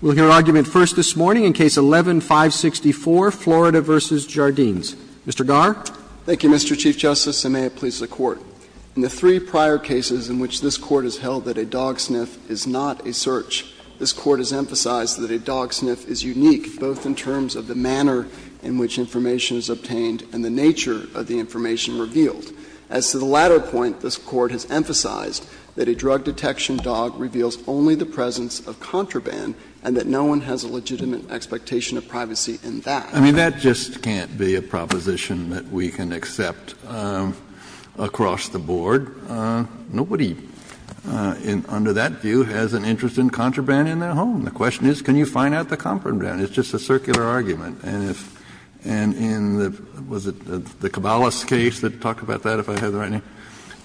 We'll hear argument first this morning in Case 11-564, Florida v. Jardines. Mr. Garre. Thank you, Mr. Chief Justice, and may it please the Court. In the three prior cases in which this Court has held that a dog sniff is not a search, this Court has emphasized that a dog sniff is unique, both in terms of the manner in which information is obtained and the nature of the information revealed. As to the latter point, this Court has emphasized that a drug detection dog reveals only the presence of contraband, and that no one has a legitimate expectation of privacy in that. Kennedy I mean, that just can't be a proposition that we can accept across the board. Nobody under that view has an interest in contraband in their home. The question is, can you find out the contraband? It's just a circular argument. And in the – was it the Cabales case that talked about that, if I have the right name?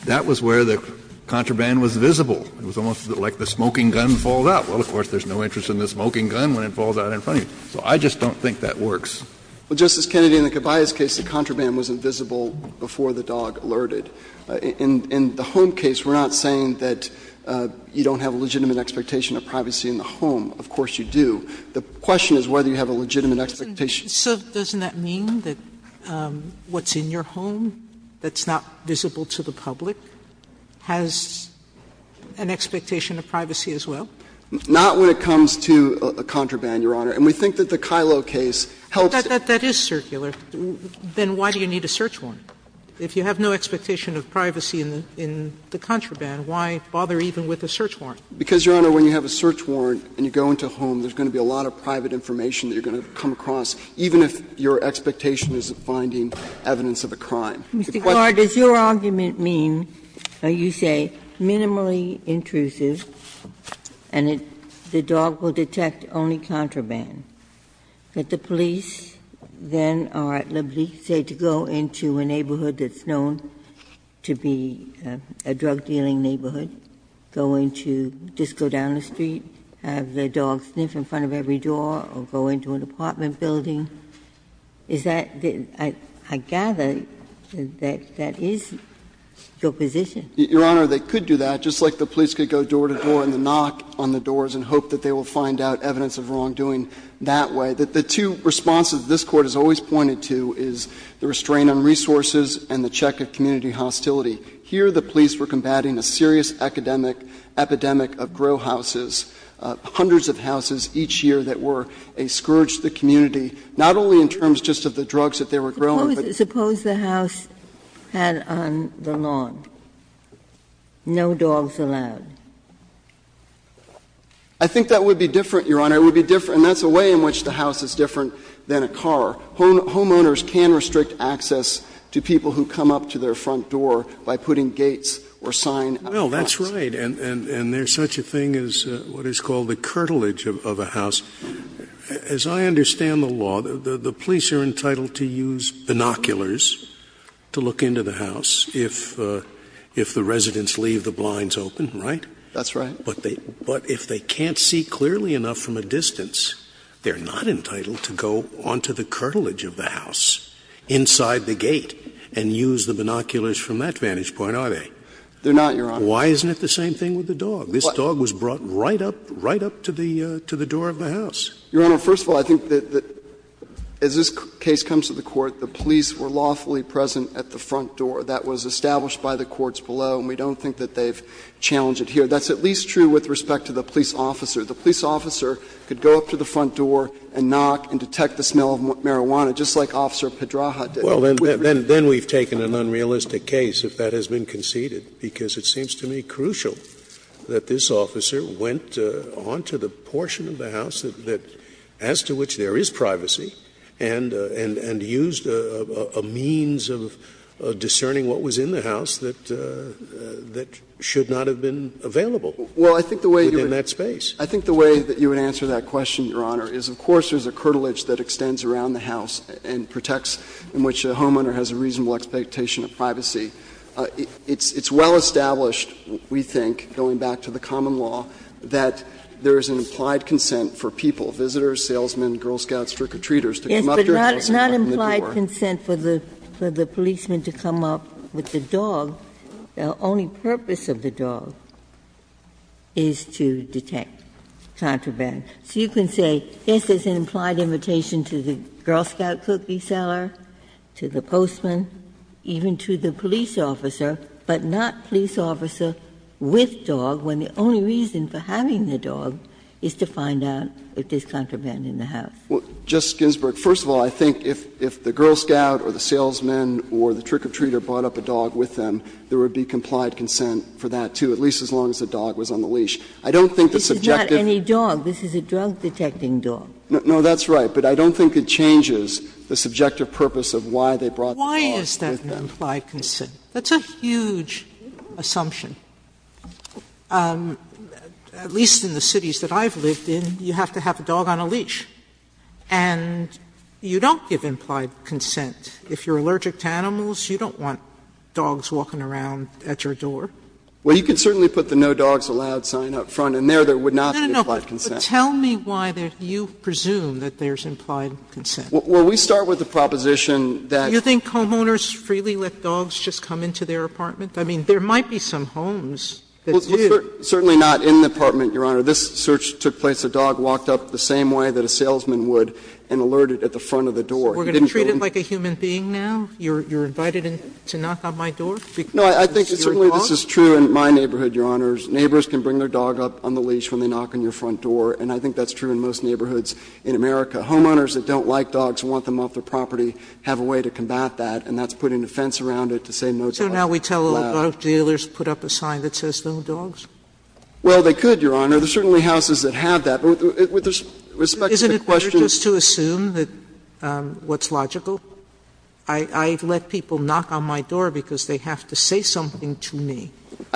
That was where the contraband was visible. It was almost like the smoking gun falls out. Well, of course, there's no interest in the smoking gun when it falls out in front of you. So I just don't think that works. Well, Justice Kennedy, in the Cabales case, the contraband was invisible before the dog alerted. In the home case, we're not saying that you don't have a legitimate expectation of privacy in the home. Of course you do. The question is whether you have a legitimate expectation. Sotomayor So doesn't that mean that what's in your home that's not visible to the public has an expectation of privacy as well? Not when it comes to a contraband, Your Honor. And we think that the Kyllo case helps. But that is circular. Then why do you need a search warrant? If you have no expectation of privacy in the contraband, why bother even with a search warrant? Because, Your Honor, when you have a search warrant and you go into a home, there's going to be a lot of private information that you're going to come across, even if your expectation is of finding evidence of a crime. Ginsburg Mr. Garre, does your argument mean, you say, minimally intrusive and the dog will detect only contraband, that the police then are at liberty, say, to go into a neighborhood that's known to be a drug-dealing neighborhood, go into, just go down the street, have the dog sniff in front of every door, or go into an apartment building? Is that the – I gather that that is your position. Garre, Your Honor, they could do that, just like the police could go door to door and knock on the doors and hope that they will find out evidence of wrongdoing that way. The two responses this Court has always pointed to is the restraint on resources and the check of community hostility. Here, the police were combating a serious academic epidemic of grow houses, hundreds of houses each year that were a scourge to the community, not only in terms just of the drugs that they were growing, but the drugs that they were selling. Suppose the house had on the lawn no dogs allowed? I think that would be different, Your Honor. It would be different. And that's a way in which the house is different than a car. Homeowners can restrict access to people who come up to their front door by putting gates or sign out of the house. Well, that's right, and there's such a thing as what is called the curtilage of a house. As I understand the law, the police are entitled to use binoculars to look into the house if the residents leave the blinds open, right? That's right. But if they can't see clearly enough from a distance, they're not entitled to go onto the curtilage of the house inside the gate and use the binoculars from that vantage point, are they? They're not, Your Honor. Why isn't it the same thing with the dog? This dog was brought right up, right up to the door of the house. Your Honor, first of all, I think that as this case comes to the Court, the police were lawfully present at the front door. That was established by the courts below, and we don't think that they've challenged it here. That's at least true with respect to the police officer. The police officer could go up to the front door and knock and detect the smell of marijuana, just like Officer Pedraja did. Well, then we've taken an unrealistic case if that has been conceded, because it seems to me crucial that this officer went on to the portion of the house that as to which there is privacy, and used a means of discerning what was in the house that should not have been available within that space. Well, I think the way you would answer that question, Your Honor, is of course there's a curtilage that extends around the house and protects in which a homeowner has a reasonable expectation of privacy. It's well established, we think, going back to the common law, that there is an implied consent for people, visitors, salesmen, Girl Scouts, trick-or-treaters, to come up to your house and open the door. Ginsburg. Yes, but not implied consent for the policeman to come up with the dog. The only purpose of the dog is to detect contraband. So you can say, yes, there's an implied invitation to the Girl Scout cookie seller, to the postman, even to the police officer, but not police officer with dog, when the only reason for having the dog is to find out if there's contraband in the house. Well, Justice Ginsburg, first of all, I think if the Girl Scout or the salesman or the trick-or-treater brought up a dog with them, there would be complied consent for that, too, at least as long as the dog was on the leash. I don't think the subjective. This is not any dog. This is a drug-detecting dog. No, that's right. But I don't think it changes the subjective purpose of why they brought the dog with them. Sotomayor Why is that an implied consent? That's a huge assumption. At least in the cities that I've lived in, you have to have a dog on a leash. And you don't give implied consent. If you're allergic to animals, you don't want dogs walking around at your door. Well, you can certainly put the no dogs allowed sign up front, and there, there would not be implied consent. Sotomayor But tell me why you presume that there's implied consent. Well, we start with the proposition that Sotomayor Do you think homeowners freely let dogs just come into their apartment? I mean, there might be some homes that do. Certainly not in the apartment, Your Honor. This search took place. A dog walked up the same way that a salesman would and alerted at the front of the door. He didn't go in. Sotomayor So we're going to treat it like a human being now? You're invited to knock on my door because it's your dog? No, I think certainly this is true in my neighborhood, Your Honor. Neighbors can bring their dog up on the leash when they knock on your front door, and I think that's true in most neighborhoods in America. Homeowners that don't like dogs and want them off their property have a way to combat that, and that's putting a fence around it to say no dogs allowed. Sotomayor So now we tell all dog dealers put up a sign that says no dogs? Well, they could, Your Honor. There are certainly houses that have that. But with respect to the question of Sotomayor Isn't it better just to assume that what's logical? I let people knock on my door because they have to say something to me.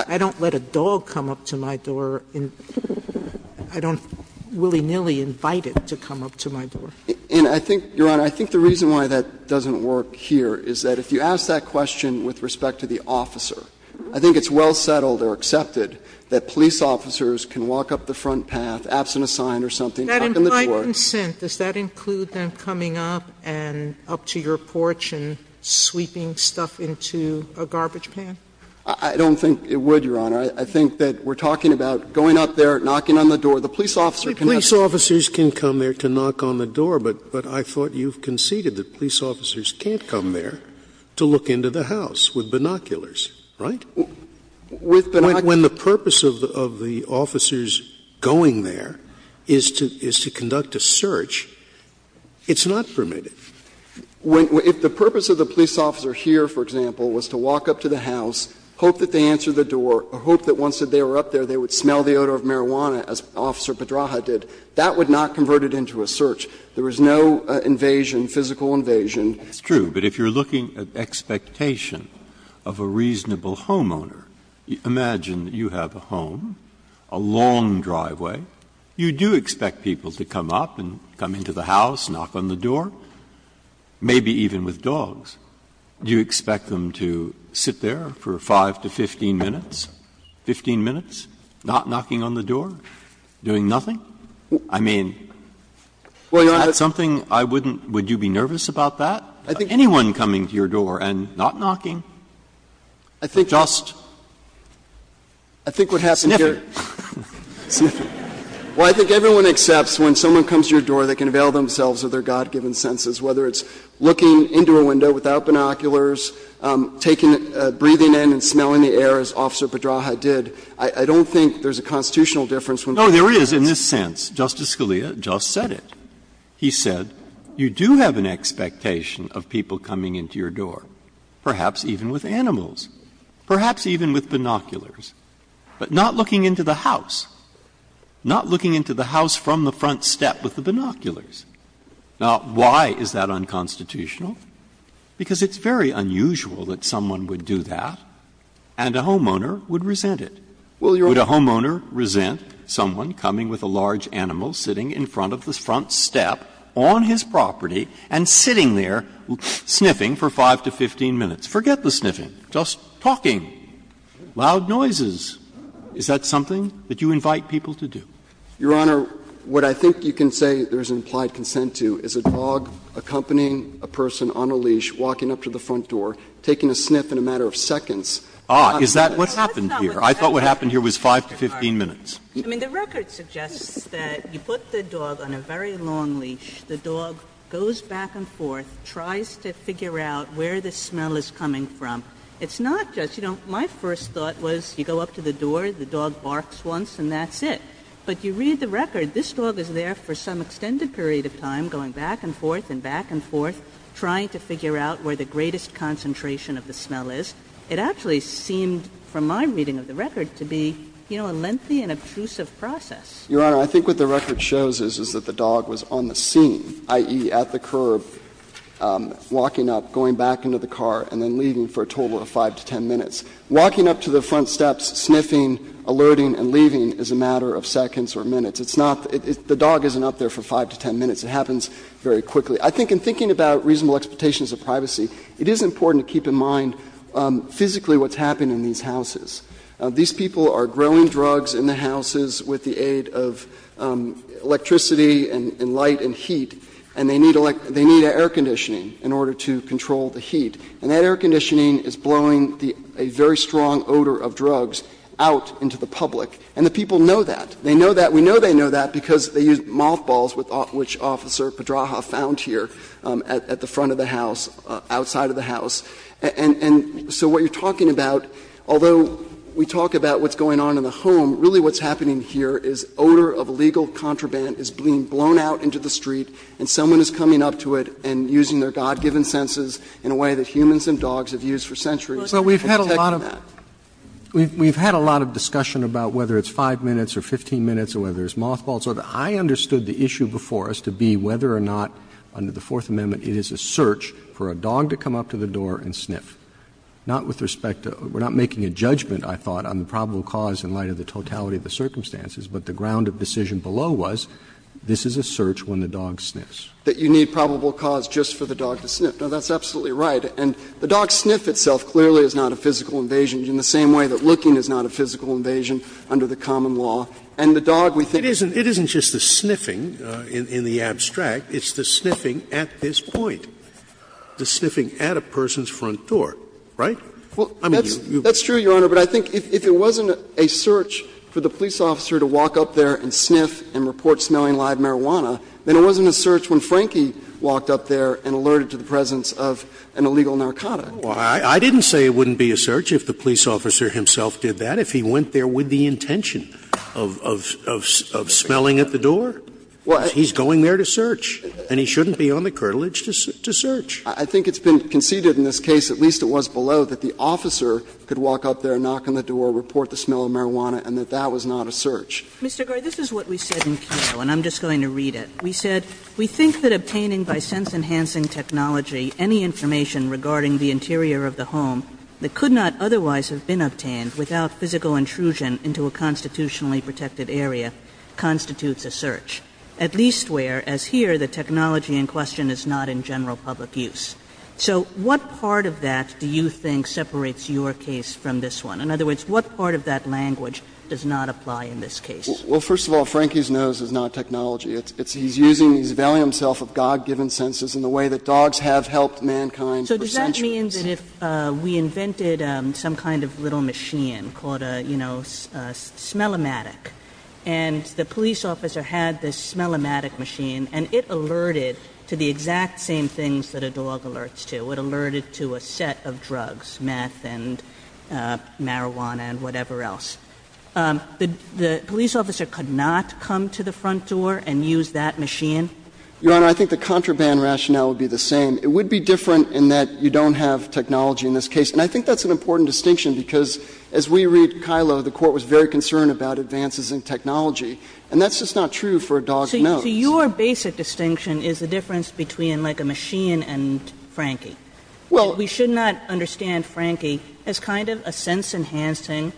I don't let a dog come up to my door. I don't willy-nilly invite it to come up to my door. And I think, Your Honor, I think the reason why that doesn't work here is that if you ask that question with respect to the officer, I think it's well settled or accepted that police officers can walk up the front path, absent a sign or something, knock on the door. That invite and sent, does that include them coming up and up to your porch and sweeping stuff into a garbage pan? I don't think it would, Your Honor. I think that we're talking about going up there, knocking on the door. The police officer can not Scalia Police officers can come there to knock on the door, but I thought you conceded that police officers can't come there to look into the house with binoculars, right? When the purpose of the officers going there is to conduct a search, it's not permitted. If the purpose of the police officer here, for example, was to walk up to the house, hope that they answered the door, or hope that once they were up there, they would smell the odor of marijuana, as Officer Pedraja did, that would not convert it into a search. There was no invasion, physical invasion. Breyer It's true, but if you're looking at expectation of a reasonable homeowner, imagine you have a home, a long driveway, you do expect people to come up and come into the house, knock on the door, maybe even with dogs. Do you expect them to sit there for 5 to 15 minutes, 15 minutes, not knocking on the door, doing nothing? I mean, is that something I wouldn't — would you be nervous about that? Anyone coming to your door and not knocking? Just sniffing. Well, I think everyone accepts when someone comes to your door, they can avail themselves of their God-given senses, whether it's looking into a window without binoculars, taking — breathing in and smelling the air, as Officer Pedraja did. I don't think there's a constitutional difference when people do that. Breyer No, there is in this sense. Justice Scalia just said it. He said you do have an expectation of people coming into your door, perhaps even with animals, perhaps even with binoculars. But not looking into the house, not looking into the house from the front step with the binoculars. Now, why is that unconstitutional? Because it's very unusual that someone would do that, and a homeowner would resent it. Would a homeowner resent someone coming with a large animal, sitting in front of the front step on his property, and sitting there sniffing for 5 to 15 minutes? Forget the sniffing. Just talking. Loud noises. Is that something that you invite people to do? Roberts Your Honor, what I think you can say there's implied consent to is a dog accompanying a person on a leash walking up to the front door, taking a sniff in a matter of seconds. Breyer Ah, is that what happened here? I thought what happened here was 5 to 15 minutes. Kagan I mean, the record suggests that you put the dog on a very long leash, the dog goes back and forth, tries to figure out where the smell is coming from. It's not just, you know, my first thought was you go up to the door, the dog barks once, and that's it. But you read the record, this dog is there for some extended period of time, going back and forth and back and forth, trying to figure out where the greatest concentration of the smell is. It actually seemed, from my reading of the record, to be, you know, a lengthy and obtrusive process. Your Honor, I think what the record shows is that the dog was on the scene, i.e., at the curb, walking up, going back into the car, and then leaving for a total of 5 to 10 minutes. Walking up to the front steps, sniffing, alerting, and leaving is a matter of seconds or minutes. It's not the dog isn't up there for 5 to 10 minutes. It happens very quickly. I think in thinking about reasonable expectations of privacy, it is important to keep in mind physically what's happening in these houses. These people are growing drugs in the houses with the aid of electricity and light and heat, and they need air conditioning in order to control the heat. And that air conditioning is blowing a very strong odor of drugs out into the public, and the people know that. They know that. We know they know that because they use mothballs, which Officer Padraha found here at the front of the house, outside of the house. And so what you're talking about, although we talk about what's going on in the home, really what's happening here is odor of legal contraband is being blown out into the street, and someone is coming up to it and using their God-given senses in a way that humans and dogs have used for centuries. Roberts. Roberts. We've had a lot of discussion about whether it's 5 minutes or 15 minutes or whether it's mothballs. I understood the issue before us to be whether or not under the Fourth Amendment it is a search for a dog to come up to the door and sniff, not with respect to we're not making a judgment, I thought, on the probable cause in light of the totality of the circumstances, but the ground of decision below was this is a search when the dog sniffs. That you need probable cause just for the dog to sniff. Now, that's absolutely right. And the dog sniff itself clearly is not a physical invasion in the same way that looking is not a physical invasion under the common law. And the dog we think is a sniffing. In the abstract, it's the sniffing at this point, the sniffing at a person's front door, right? Well, that's true, Your Honor, but I think if it wasn't a search for the police officer to walk up there and sniff and report smelling live marijuana, then it wasn't a search when Frankie walked up there and alerted to the presence of an illegal narcotic. I didn't say it wouldn't be a search if the police officer himself did that. What if he went there with the intention of smelling at the door? He's going there to search, and he shouldn't be on the curtilage to search. I think it's been conceded in this case, at least it was below, that the officer could walk up there, knock on the door, report the smell of marijuana, and that that was not a search. Mr. Garre, this is what we said in Kato, and I'm just going to read it. We said, We think that obtaining by sense-enhancing technology any information regarding the interior of the home that could not otherwise have been obtained without physical intrusion into a constitutionally protected area constitutes a search, at least where, as here, the technology in question is not in general public use. So what part of that do you think separates your case from this one? In other words, what part of that language does not apply in this case? Well, first of all, Frankie's nose is not technology. It's he's using, he's availing himself of God-given senses in the way that dogs have helped mankind for centuries. So does that mean that if we invented some kind of little machine called a, you know, a smell-o-matic, and the police officer had this smell-o-matic machine, and it alerted to the exact same things that a dog alerts to, it alerted to a set of drugs, meth and marijuana and whatever else, the police officer could not come to the front door and use that machine? Your Honor, I think the contraband rationale would be the same. It would be different in that you don't have technology in this case. And I think that's an important distinction, because as we read Kilo, the Court was very concerned about advances in technology, and that's just not true for a dog's nose. So your basic distinction is the difference between, like, a machine and Frankie. Well, we should not understand Frankie as kind of a sense-enhancing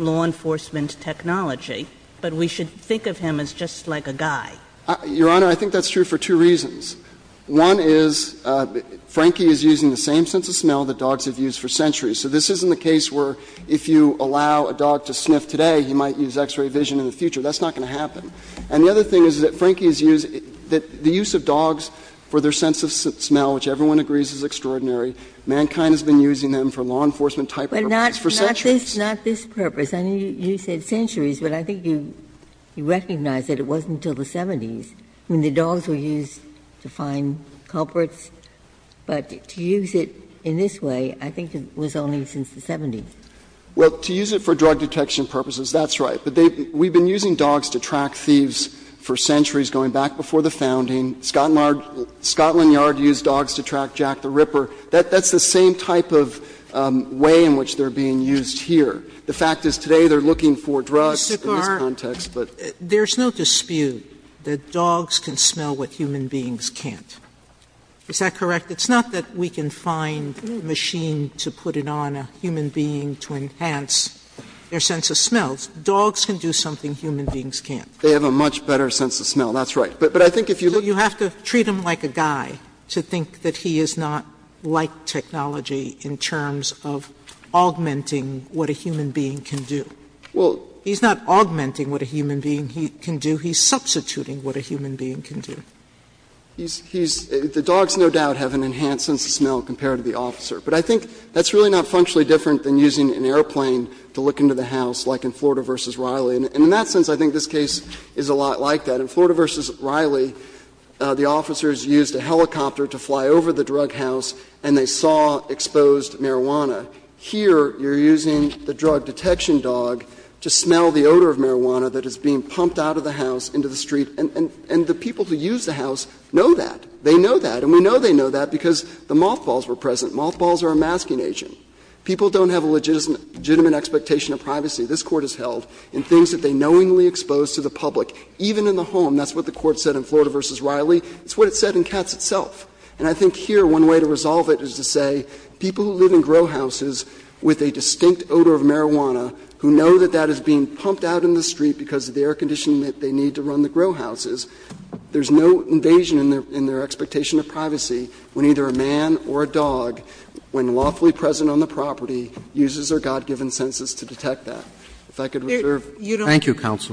law enforcement technology, but we should think of him as just like a guy. Your Honor, I think that's true for two reasons. One is Frankie is using the same sense of smell that dogs have used for centuries. So this isn't the case where if you allow a dog to sniff today, he might use x-ray vision in the future. That's not going to happen. And the other thing is that Frankie is using the use of dogs for their sense of smell, which everyone agrees is extraordinary. Mankind has been using them for law enforcement type purposes for centuries. Ginsburg. But not this purpose. I know you said centuries, but I think you recognize that it wasn't until the 70s when the dogs were used to find culprits. But to use it in this way, I think it was only since the 70s. Well, to use it for drug detection purposes, that's right. But they've been using dogs to track thieves for centuries, going back before the founding. Scotland Yard used dogs to track Jack the Ripper. That's the same type of way in which they're being used here. The fact is today they're looking for drugs in this context, but. There's no dispute that dogs can smell what human beings can't. Is that correct? It's not that we can find a machine to put it on a human being to enhance their sense of smell. Dogs can do something human beings can't. They have a much better sense of smell. That's right. But I think if you look. You have to treat him like a guy to think that he is not like technology in terms of augmenting what a human being can do. He's not augmenting what a human being can do. He's substituting what a human being can do. He's, he's, the dogs no doubt have an enhanced sense of smell compared to the officer. But I think that's really not functionally different than using an airplane to look into the house, like in Florida v. Riley. And in that sense, I think this case is a lot like that. In Florida v. Riley, the officers used a helicopter to fly over the drug house and they saw exposed marijuana. Here, you're using the drug detection dog to smell the odor of marijuana that is being pumped out of the house into the street. And the people who use the house know that. They know that. And we know they know that because the mothballs were present. Mothballs are a masking agent. People don't have a legitimate expectation of privacy. This Court has held in things that they knowingly exposed to the public, even in the home, that's what the Court said in Florida v. Riley, it's what it said in Katz itself. And I think here, one way to resolve it is to say people who live in grow houses with a distinct odor of marijuana, who know that that is being pumped out in the street because of the air conditioning that they need to run the grow houses, there's no invasion in their expectation of privacy when either a man or a dog, when lawfully present on the property, uses their God-given senses to detect that. If I could reserve. Sotomayor, you don't have to. Roberts,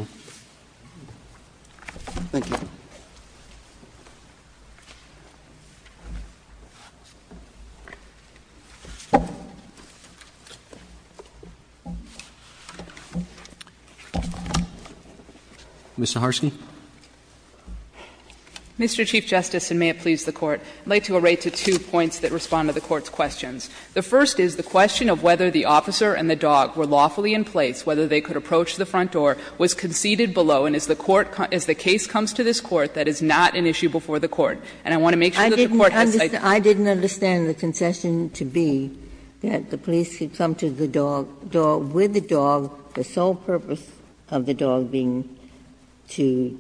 thank you, counsel. Mr. Harsky. Mr. Chief Justice, and may it please the Court, I would like to array to two points that respond to the Court's questions. The first is the question of whether the officer and the dog were lawfully in place, whether they could approach the front door, was conceivable, and if so, how did they do it? And the second is whether the officer and the dog were lawfully in place, was conceivable, and if so, how did they do it? And I want to make sure that the Court has cited that. Ginsburg, I didn't understand the concession to be that the police could come to the dog, with the dog, the sole purpose of the dog being to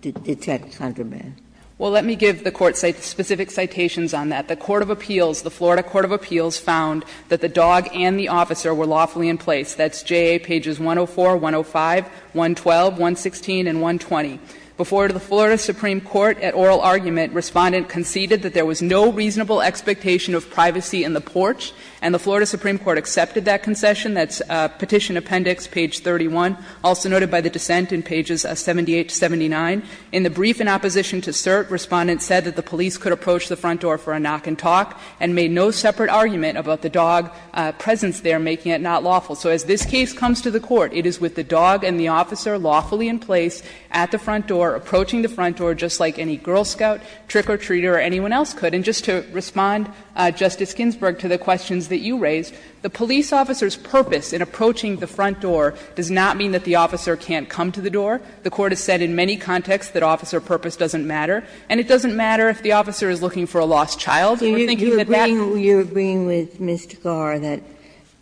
detect contraband. Well, let me give the Court specific citations on that. The court of appeals, the Florida court of appeals found that the dog and the officer were lawfully in place. That's JA pages 104, 105, 112, 116, and 120. Before the Florida supreme court at oral argument, Respondent conceded that there was no reasonable expectation of privacy in the porch, and the Florida supreme court accepted that concession. That's Petition Appendix page 31, also noted by the dissent in pages 78 to 79. In the brief in opposition to cert, Respondent said that the police could approach the front door for a knock and talk, and made no separate argument about the dog presence there making it not lawful. So as this case comes to the Court, it is with the dog and the officer lawfully in place at the front door, approaching the front door just like any Girl Scout, trick-or-treater, or anyone else could. And just to respond, Justice Ginsburg, to the questions that you raised, the police officer's purpose in approaching the front door does not mean that the officer can't come to the door. The Court has said in many contexts that officer purpose doesn't matter, and it doesn't matter if the officer is looking for a lost child. We're thinking that that's. Ginsburg. You're agreeing with Mr. Garre that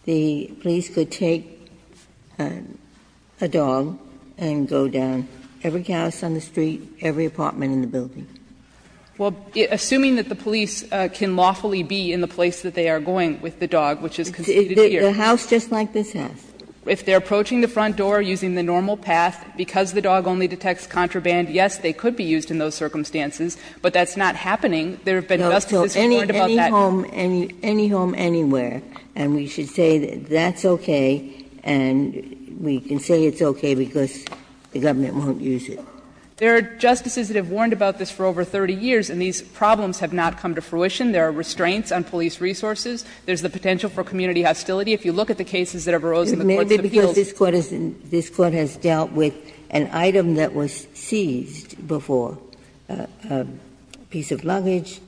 the police could take a dog and go down every house on the street, every apartment in the building? Well, assuming that the police can lawfully be in the place that they are going with the dog, which is conceded here. The house just like this house? If they are approaching the front door using the normal path, because the dog only detects contraband, yes, they could be used in those circumstances, but that's not happening. There have been justices who have warned about that. Any home, any home anywhere, and we should say that that's okay, and we can say it's okay because the government won't use it. There are justices that have warned about this for over 30 years, and these problems have not come to fruition. There are restraints on police resources. There's the potential for community hostility. If you look at the cases that have arose in the courts of appeals. This Court has dealt with an item that was seized before, a piece of luggage,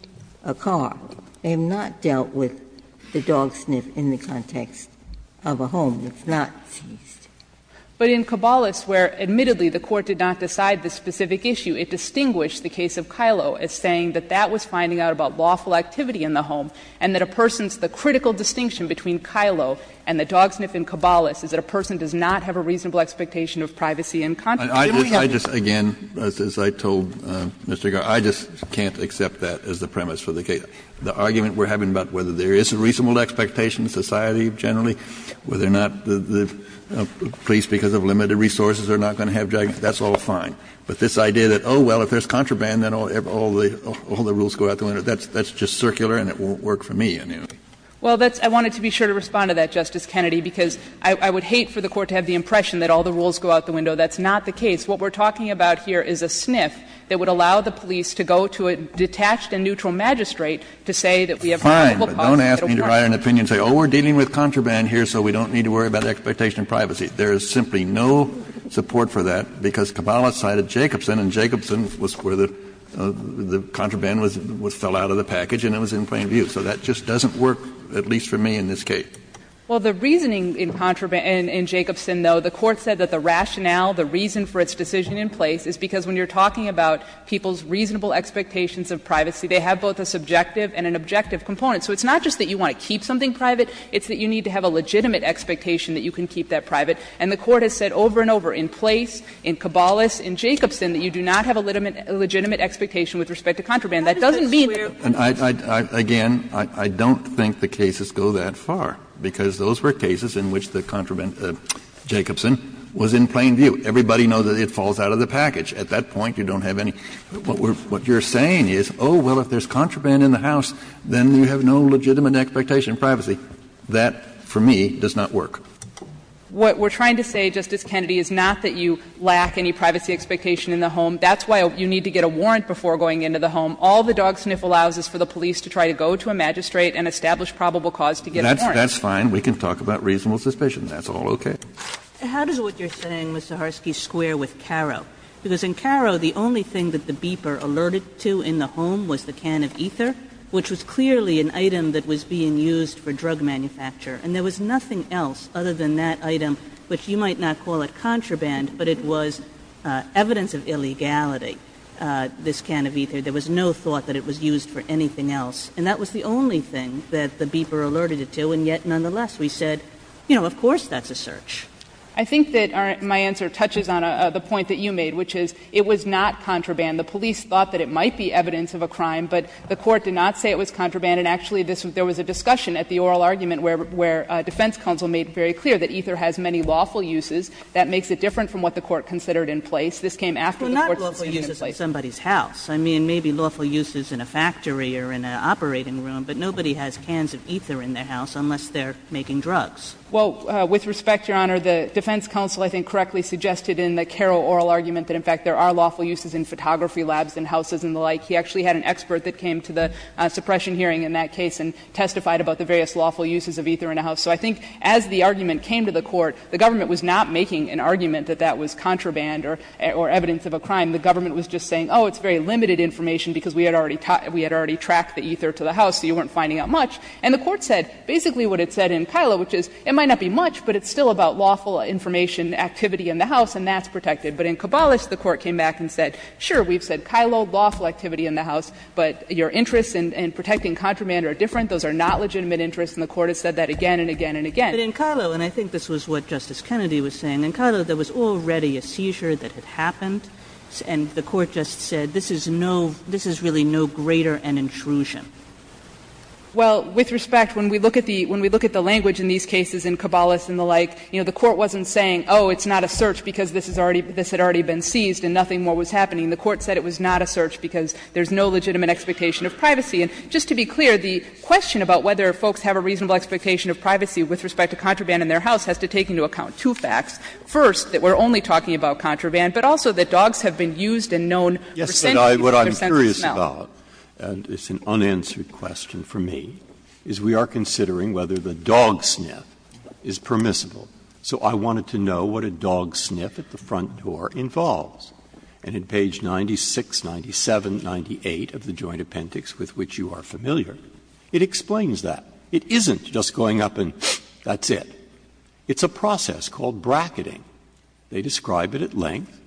a car. They have not dealt with the dog sniff in the context of a home that's not seized. But in Caballos, where admittedly the Court did not decide the specific issue, it distinguished the case of Kyllo as saying that that was finding out about lawful activity in the home, and that a person's the critical distinction between Kyllo and the dog sniff in Caballos is that a person does not have a reasonable expectation of privacy and contraband. Kennedy, I just, again, as I told Mr. Garre, I just can't accept that as the premise for the case. The argument we're having about whether there is a reasonable expectation in society generally, whether or not the police, because of limited resources, are not going to have drug use, that's all fine. But this idea that, oh, well, if there's contraband, then all the rules go out the window, it's circular and it won't work for me, I mean. Well, that's — I wanted to be sure to respond to that, Justice Kennedy, because I would hate for the Court to have the impression that all the rules go out the window. That's not the case. What we're talking about here is a sniff that would allow the police to go to a detached and neutral magistrate to say that we have a reasonable possibility that it will work. Fine. But don't ask me to write an opinion and say, oh, we're dealing with contraband here, so we don't need to worry about expectation of privacy. There is simply no support for that, because Caballos cited Jacobson, and Jacobson was where the contraband was — fell out of the package, and it was in plain view. So that just doesn't work, at least for me, in this case. Well, the reasoning in Jacobson, though, the Court said that the rationale, the reason for its decision in place, is because when you're talking about people's reasonable expectations of privacy, they have both a subjective and an objective component. So it's not just that you want to keep something private, it's that you need to have a legitimate expectation that you can keep that private. And the Court has said over and over in Place, in Caballos, in Jacobson, that you do not have a legitimate expectation with respect to contraband. That doesn't mean that the case is fair. Kennedy, again, I don't think the cases go that far, because those were cases in which the contraband, Jacobson, was in plain view. Everybody knows that it falls out of the package. At that point, you don't have any — what you're saying is, oh, well, if there's contraband in the house, then you have no legitimate expectation of privacy. That, for me, does not work. What we're trying to say, Justice Kennedy, is not that you lack any privacy expectation in the home. That's why you need to get a warrant before going into the home. All the dog sniff allows is for the police to try to go to a magistrate and establish probable cause to get a warrant. Kennedy, that's fine. We can talk about reasonable suspicion. That's all okay. Kagan, how does what you're saying, Mr. Harsky, square with Carrow? Because in Carrow, the only thing that the beeper alerted to in the home was the can of ether, which was clearly an item that was being used for drug manufacture. And there was nothing else other than that item, which you might not call it contraband, but it was evidence of illegality, this can of ether. There was no thought that it was used for anything else. And that was the only thing that the beeper alerted it to, and yet, nonetheless, we said, you know, of course that's a search. I think that my answer touches on the point that you made, which is it was not contraband. The police thought that it might be evidence of a crime, but the Court did not say it was contraband. And actually, there was a discussion at the oral argument where defense counsel made very clear that ether has many lawful uses. That makes it different from what the Court considered in place. This came after the Court's decision in place. Kagan. Well, not lawful uses in somebody's house. I mean, maybe lawful uses in a factory or in an operating room, but nobody has cans of ether in their house unless they're making drugs. Well, with respect, Your Honor, the defense counsel, I think, correctly suggested in the Carrow oral argument that, in fact, there are lawful uses in photography labs and houses and the like. He actually had an expert that came to the suppression hearing in that case and testified about the various lawful uses of ether in a house. So I think as the argument came to the Court, the government was not making an argument that that was contraband or evidence of a crime. The government was just saying, oh, it's very limited information because we had already tracked the ether to the house, so you weren't finding out much. And the Court said basically what it said in Kilo, which is it might not be much, but it's still about lawful information activity in the house, and that's protected. But in Cabales, the Court came back and said, sure, we've said Kilo, lawful activity in the house, but your interests in protecting contraband are different. Those are not legitimate interests. And the Court has said that again and again and again. Kagan. But in Kilo, and I think this was what Justice Kennedy was saying, in Kilo there was already a seizure that had happened, and the Court just said this is no — this is really no greater an intrusion. Well, with respect, when we look at the — when we look at the language in these cases in Cabales and the like, you know, the Court wasn't saying, oh, it's not a search because this is already — this had already been seized and nothing more was happening. The Court said it was not a search because there's no legitimate expectation of privacy. And just to be clear, the question about whether folks have a reasonable expectation of privacy with respect to contraband in their house has to take into account two facts. First, that we're only talking about contraband, but also that dogs have been used and known for scenting with their sense of smell. Breyer. Yes, but what I'm curious about, and it's an unanswered question for me, is we are considering whether the dog sniff is permissible. So I wanted to know what a dog sniff at the front door involves. And in page 96, 97, 98 of the Joint Appendix, with which you are familiar, it explains that. It isn't just going up and that's it. It's a process called bracketing. They describe it at length.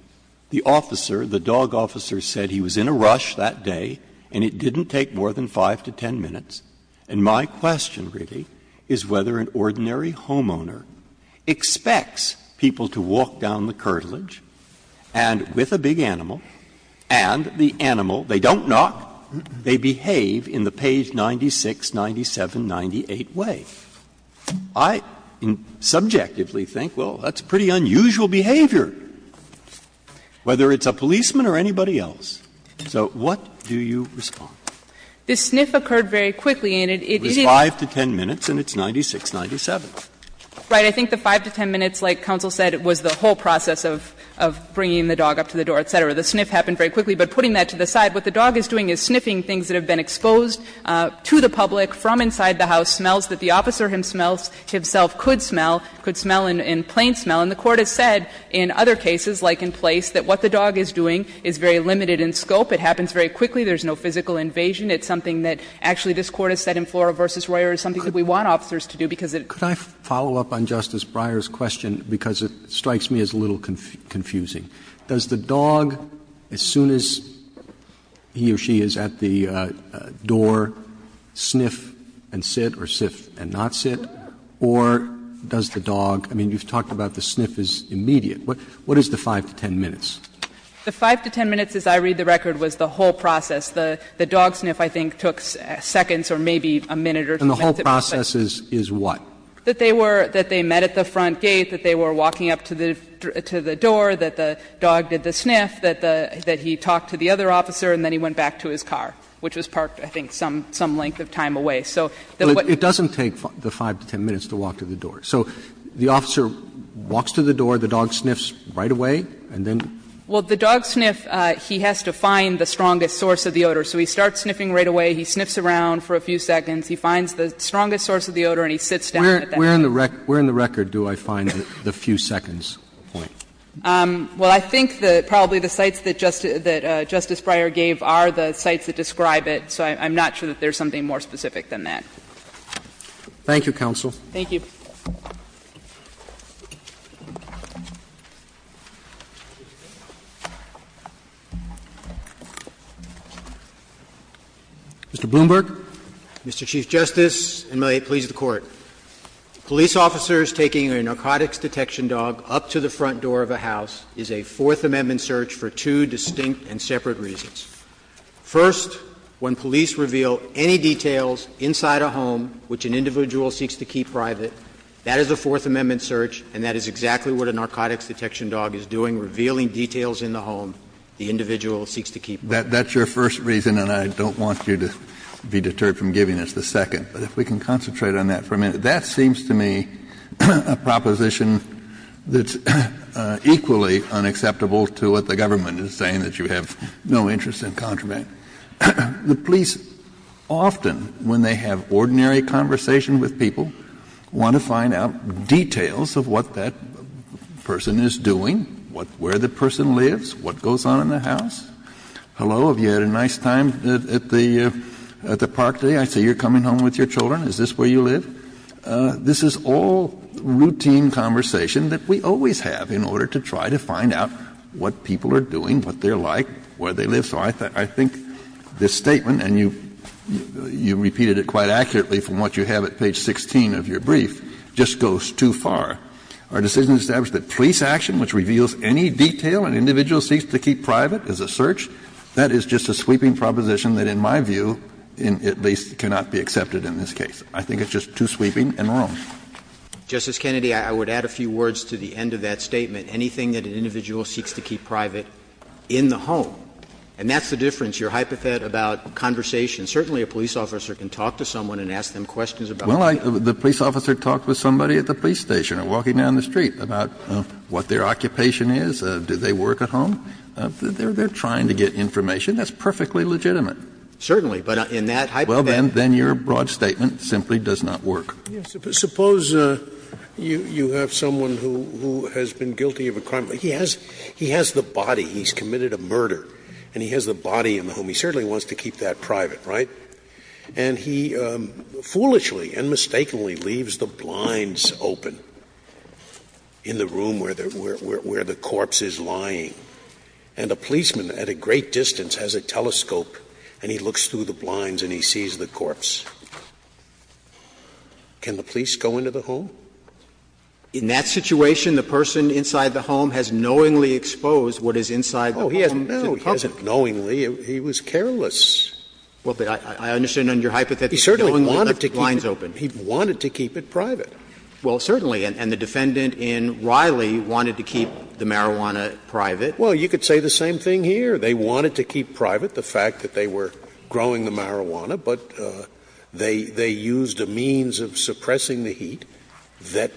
The officer, the dog officer, said he was in a rush that day and it didn't take more than 5 to 10 minutes. And my question, really, is whether an ordinary homeowner expects people to walk down the curtilage, and with a big animal, and the animal, they don't knock, they behave in the page 96, 97, 98 way. I subjectively think, well, that's pretty unusual behavior, whether it's a policeman or anybody else. So what do you respond? This sniff occurred very quickly, and it is 5 to 10 minutes, and it's 96, 97. Right. I think the 5 to 10 minutes, like counsel said, was the whole process of bringing the dog up to the door, et cetera. The sniff happened very quickly. But putting that to the side, what the dog is doing is sniffing things that have been exposed to the public from inside the house, smells that the officer himself could smell, could smell in plain smell. And the Court has said in other cases, like in Place, that what the dog is doing is very limited in scope. It happens very quickly. There's no physical invasion. It's something that actually this Court has said in Flora v. Royer is something that we want officers to do because it's very limited. Could I follow up on Justice Breyer's question, because it strikes me as a little confusing. Does the dog, as soon as he or she is at the door, sniff and sit or sift and not sit? Or does the dog – I mean, you've talked about the sniff is immediate. What is the 5 to 10 minutes? The 5 to 10 minutes, as I read the record, was the whole process. The dog sniff, I think, took seconds or maybe a minute or two. And the whole process is what? That they were – that they met at the front gate, that they were walking up to the door, that the dog did the sniff, that the – that he talked to the other officer and then he went back to his car, which was parked, I think, some length of time away. So what – But it doesn't take the 5 to 10 minutes to walk to the door. So the officer walks to the door, the dog sniffs right away, and then – Well, the dog sniff, he has to find the strongest source of the odor. So he starts sniffing right away, he sniffs around for a few seconds, he finds the strongest source of the odor, and he sits down at that point. Where in the record do I find the few seconds point? Well, I think that probably the sites that Justice Breyer gave are the sites that describe it, so I'm not sure that there's something more specific than that. Thank you, counsel. Thank you. Mr. Bloomberg. Mr. Chief Justice, and may it please the Court. Police officers taking a narcotics detection dog up to the front door of a house is a Fourth Amendment search for two distinct and separate reasons. First, when police reveal any details inside a home which an individual seeks to keep private, that is a Fourth Amendment search, and that is exactly what a narcotics detection dog is doing, revealing details in the home the individual seeks to keep private. That's your first reason, and I don't want you to be deterred from giving us the second. But if we can concentrate on that for a minute, that seems to me a proposition that's equally unacceptable to what the government is saying, that you have no interest in contraband. The police often, when they have ordinary conversation with people, want to find out details of what that person is doing, where the person lives, what goes on in the Hello. Have you had a nice time at the park today? I see you're coming home with your children. Is this where you live? This is all routine conversation that we always have in order to try to find out what people are doing, what they're like, where they live. So I think this statement, and you've repeated it quite accurately from what you have at page 16 of your brief, just goes too far. Our decision to establish that police action which reveals any detail an individual seeks to keep private as a search, that is just a sweeping proposition that, in my view, at least cannot be accepted in this case. I think it's just too sweeping and wrong. Justice Kennedy, I would add a few words to the end of that statement. Anything that an individual seeks to keep private in the home, and that's the difference. Your hypothet about conversation, certainly a police officer can talk to someone and ask them questions about that. Well, the police officer talked with somebody at the police station or walking down the street about what their occupation is, do they work at home. They're trying to get information that's perfectly legitimate. Certainly, but in that hypothet. Well, then your broad statement simply does not work. Suppose you have someone who has been guilty of a crime. He has the body. He's committed a murder. And he has the body in the home. He certainly wants to keep that private, right? And he foolishly and mistakenly leaves the blinds open in the room where the corpse is lying. And a policeman at a great distance has a telescope and he looks through the blinds and he sees the corpse. Can the police go into the home? In that situation, the person inside the home has knowingly exposed what is inside the home to the public. Oh, no, he hasn't knowingly. He was careless. Well, but I understand in your hypothet that he knowingly left the blinds open. He wanted to keep it private. Well, certainly. And the defendant in Riley wanted to keep the marijuana private. Well, you could say the same thing here. They wanted to keep private the fact that they were growing the marijuana, but they used a means of suppressing the heat that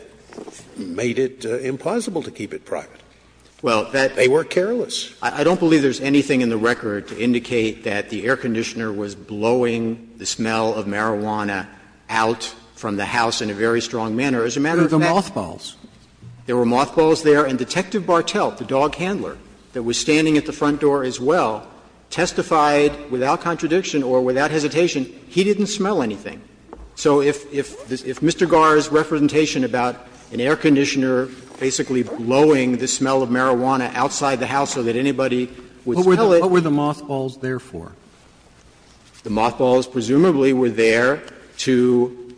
made it impossible to keep it private. Well, that's. They were careless. I don't believe there's anything in the record to indicate that the air conditioner was blowing the smell of marijuana out from the house in a very strong manner. As a matter of fact, there were mothballs there, and Detective Bartelt, the dog handler that was standing at the front door as well, testified without contradiction or without hesitation he didn't smell anything. So if Mr. Garre's representation about an air conditioner basically blowing the smell of marijuana outside the house so that anybody would smell it. What were the mothballs there for? The mothballs presumably were there to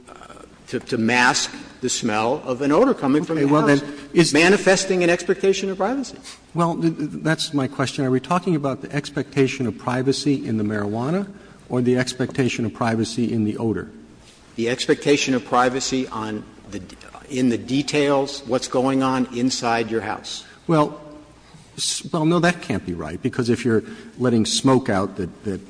mask the smell of an odor coming from the house. It's manifesting an expectation of privacy. Well, that's my question. Are we talking about the expectation of privacy in the marijuana or the expectation of privacy in the odor? The expectation of privacy on the details, what's going on inside your house. Well, no, that can't be right. Because if you're letting smoke out that,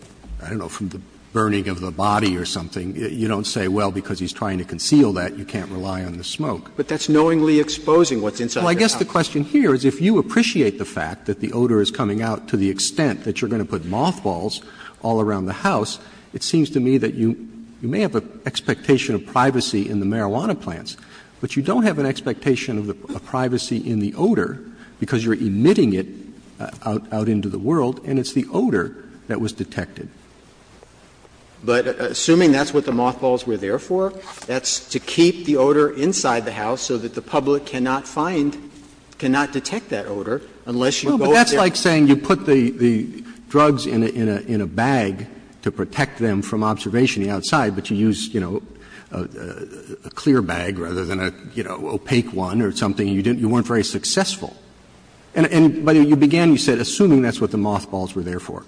I don't know, from the burning of the body or something, you don't say, well, because he's trying to conceal that, you can't rely on the smoke. But that's knowingly exposing what's inside the house. Well, I guess the question here is if you appreciate the fact that the odor is coming out to the extent that you're going to put mothballs all around the house, it seems to me that you may have an expectation of privacy in the marijuana plants, but you don't have an expectation of privacy in the odor because you're emitting it out into the world, and it's the odor that was detected. But assuming that's what the mothballs were there for, that's to keep the odor inside the house so that the public cannot find, cannot detect that odor unless you go out there. Well, but that's like saying you put the drugs in a bag to protect them from observation outside, but you use, you know, a clear bag rather than a, you know, opaque one or something and you weren't very successful. And by the way, you began, you said, assuming that's what the mothballs were there for.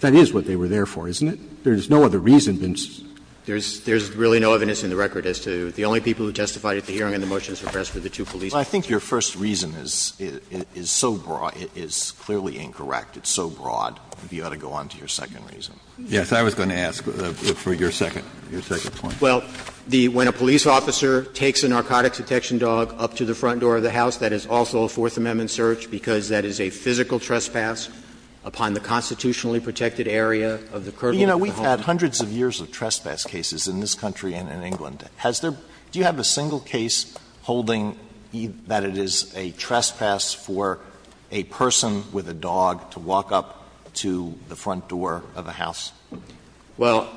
That is what they were there for, isn't it? There's no other reason than just. There's really no evidence in the record as to the only people who testified at the hearing and the motions were pressed were the two police officers. Well, I think your first reason is so broad, it is clearly incorrect. It's so broad. You ought to go on to your second reason. Yes, I was going to ask for your second point. Well, the when a police officer takes a narcotics detection dog up to the front door of a house, that's a Fourth Amendment search, because that is a physical trespass upon the constitutionally protected area of the curtain of the home. But, you know, we've had hundreds of years of trespass cases in this country and in England. Has there been, do you have a single case holding that it is a trespass for a person with a dog to walk up to the front door of a house? Well,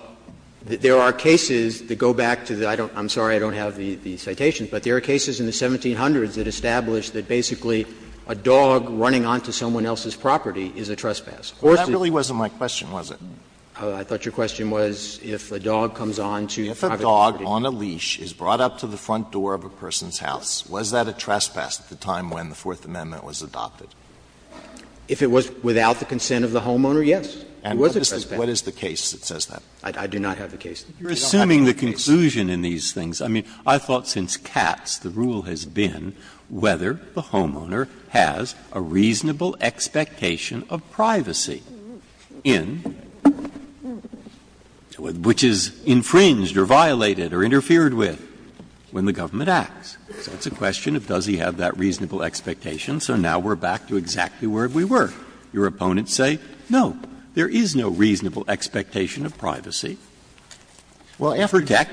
there are cases that go back to the, I don't, I'm sorry I don't have the citations, but there are cases in the 1700s that established that basically a dog running onto someone else's property is a trespass. Of course, the question was if a dog comes on to a private property. If a dog on a leash is brought up to the front door of a person's house, was that a trespass at the time when the Fourth Amendment was adopted? If it was without the consent of the homeowner, yes. It was a trespass. And what is the case that says that? I do not have the case. Breyer. You're assuming the conclusion in these things. I mean, I thought since Katz, the rule has been whether the homeowner has a reasonable expectation of privacy in, which is infringed or violated or interfered with when the government acts. So it's a question of does he have that reasonable expectation, so now we're back to exactly where we were. Your opponents say, no, there is no reasonable expectation of privacy. Well, after DECT,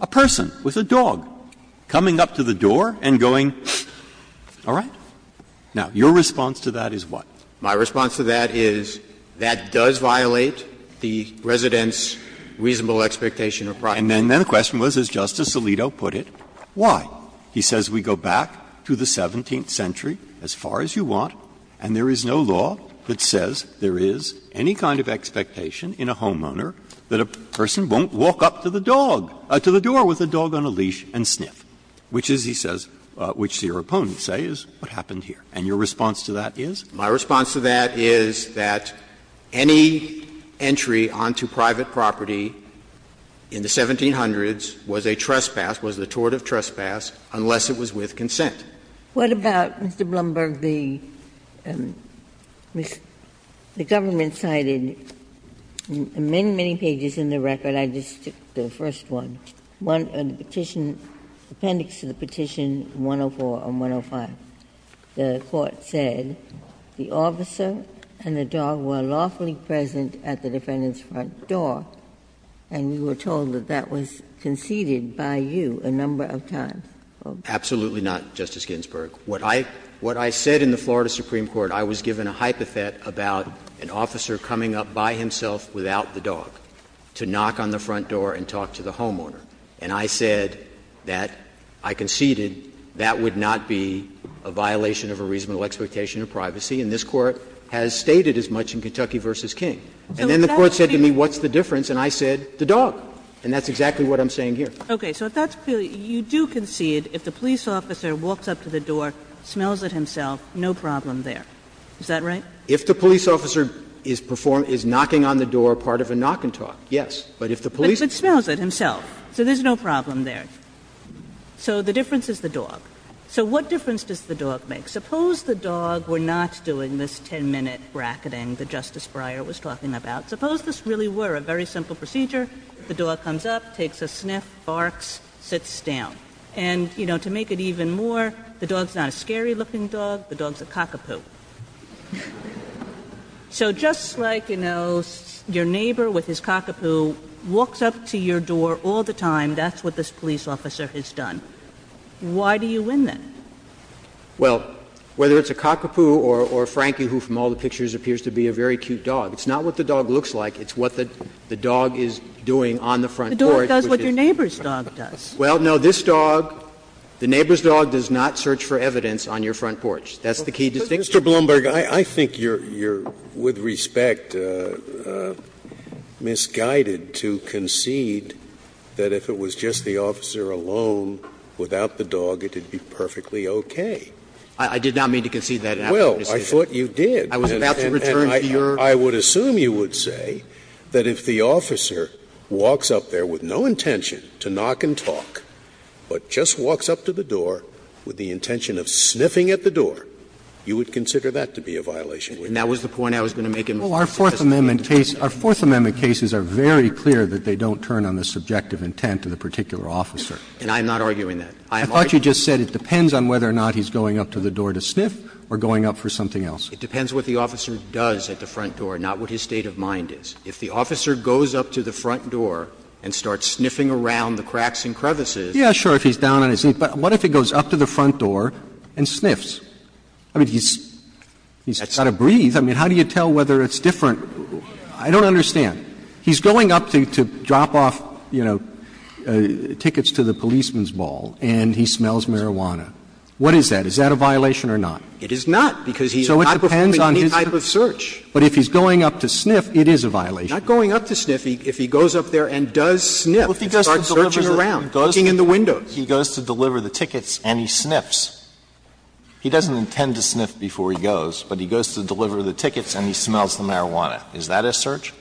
a person with a dog coming up to the door and going, all right. Now, your response to that is what? My response to that is that does violate the resident's reasonable expectation of privacy. And then the question was, as Justice Alito put it, why? He says we go back to the 17th century as far as you want, and there is no law that a person won't walk up to the dog, to the door with a dog on a leash and sniff, which is, he says, which your opponents say is what happened here. And your response to that is? My response to that is that any entry onto private property in the 1700s was a trespass, was a tort of trespass, unless it was with consent. What about, Mr. Blumberg, the government cited many, many pages in the record. I just took the first one. One, the petition, appendix to the petition 104 on 105. The court said the officer and the dog were lawfully present at the defendant's front door, and you were told that that was conceded by you a number of times. Absolutely not, Justice Ginsburg. What I said in the Florida Supreme Court, I was given a hypothet about an officer coming up by himself without the dog to knock on the front door and talk to the homeowner. And I said that, I conceded that would not be a violation of a reasonable expectation of privacy, and this Court has stated as much in Kentucky v. King. And then the Court said to me, what's the difference? And I said, the dog. And that's exactly what I'm saying here. Okay. So if that's clear, you do concede if the police officer walks up to the door, smells it himself, no problem there. Is that right? If the police officer is knocking on the door, part of a knock and talk, yes. But if the police officer. But smells it himself, so there's no problem there. So the difference is the dog. So what difference does the dog make? Suppose the dog were not doing this 10-minute bracketing that Justice Breyer was talking about. Suppose this really were a very simple procedure. The dog comes up, takes a sniff, barks, sits down. And, you know, to make it even more, the dog's not a scary-looking dog, the dog's a cockapoo. So just like, you know, your neighbor with his cockapoo walks up to your door all the time, that's what this police officer has done. Why do you win, then? Well, whether it's a cockapoo or a Frankie who from all the pictures appears to be a very cute dog, it's not what the dog looks like. It's what the dog is doing on the front porch. The dog does what your neighbor's dog does. Well, no, this dog, the neighbor's dog does not search for evidence on your front porch. That's the key distinction. Mr. Blumberg, I think you're, with respect, misguided to concede that if it was just the officer alone without the dog, it would be perfectly okay. I did not mean to concede that. Well, I thought you did. I was about to return to your. I would assume you would say that if the officer walks up there with no intention to knock and talk, but just walks up to the door with the intention of sniffing at the door, you would consider that to be a violation, wouldn't you? And that was the point I was going to make in my first testimony. Well, our Fourth Amendment case – our Fourth Amendment cases are very clear that they don't turn on the subjective intent of the particular officer. And I'm not arguing that. I am arguing that. I thought you just said it depends on whether or not he's going up to the door to sniff or going up for something else. It depends what the officer does at the front door, not what his state of mind is. If the officer goes up to the front door and starts sniffing around the cracks and crevices. Yeah, sure, if he's down on his knees. But what if he goes up to the front door and sniffs? I mean, he's got to breathe. I mean, how do you tell whether it's different? I don't understand. He's going up to drop off, you know, tickets to the policeman's ball, and he smells marijuana. What is that? Is that a violation or not? It is not. Because he's not performing any type of search. But if he's going up to sniff, it is a violation. Not going up to sniff. If he goes up there and does sniff, he starts searching around, looking in the windows. He goes to deliver the tickets and he sniffs. He doesn't intend to sniff before he goes, but he goes to deliver the tickets and he smells the marijuana. Is that a search?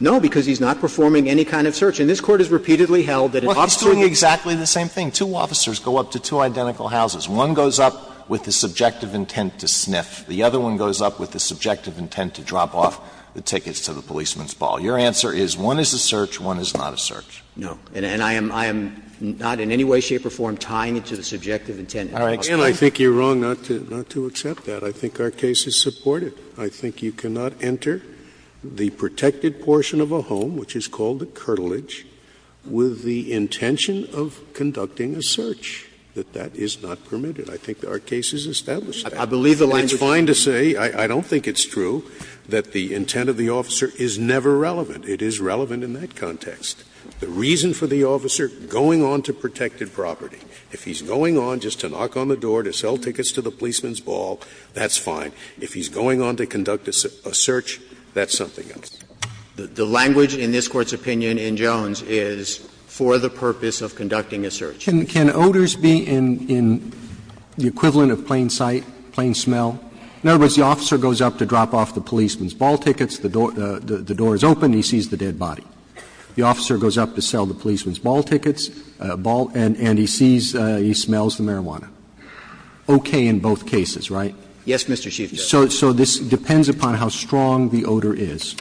No, because he's not performing any kind of search. And this Court has repeatedly held that if officers do the same thing, two officers go up to two identical houses. One goes up with the subjective intent to sniff. The other one goes up with the subjective intent to drop off the tickets to the policeman's ball. Your answer is one is a search, one is not a search. No. And I am not in any way, shape or form tying it to the subjective intent. All right. Scalia, I think you're wrong not to accept that. I think our case is supported. I think you cannot enter the protected portion of a home, which is called the curtilage, with the intention of conducting a search, that that is not permitted. I think our case is established. I believe the language is true. It's fine to say, I don't think it's true, that the intent of the officer is never relevant. It is relevant in that context. The reason for the officer going on to protected property, if he's going on just to knock on the door to sell tickets to the policeman's ball, that's fine. If he's going on to conduct a search, that's something else. The language in this Court's opinion in Jones is for the purpose of conducting a search. Can odors be in the equivalent of plain sight, plain smell? In other words, the officer goes up to drop off the policeman's ball tickets, the door is open, he sees the dead body. The officer goes up to sell the policeman's ball tickets, and he sees, he smells the marijuana. Okay in both cases, right? Yes, Mr. Chief Justice. So this depends upon how strong the odor is.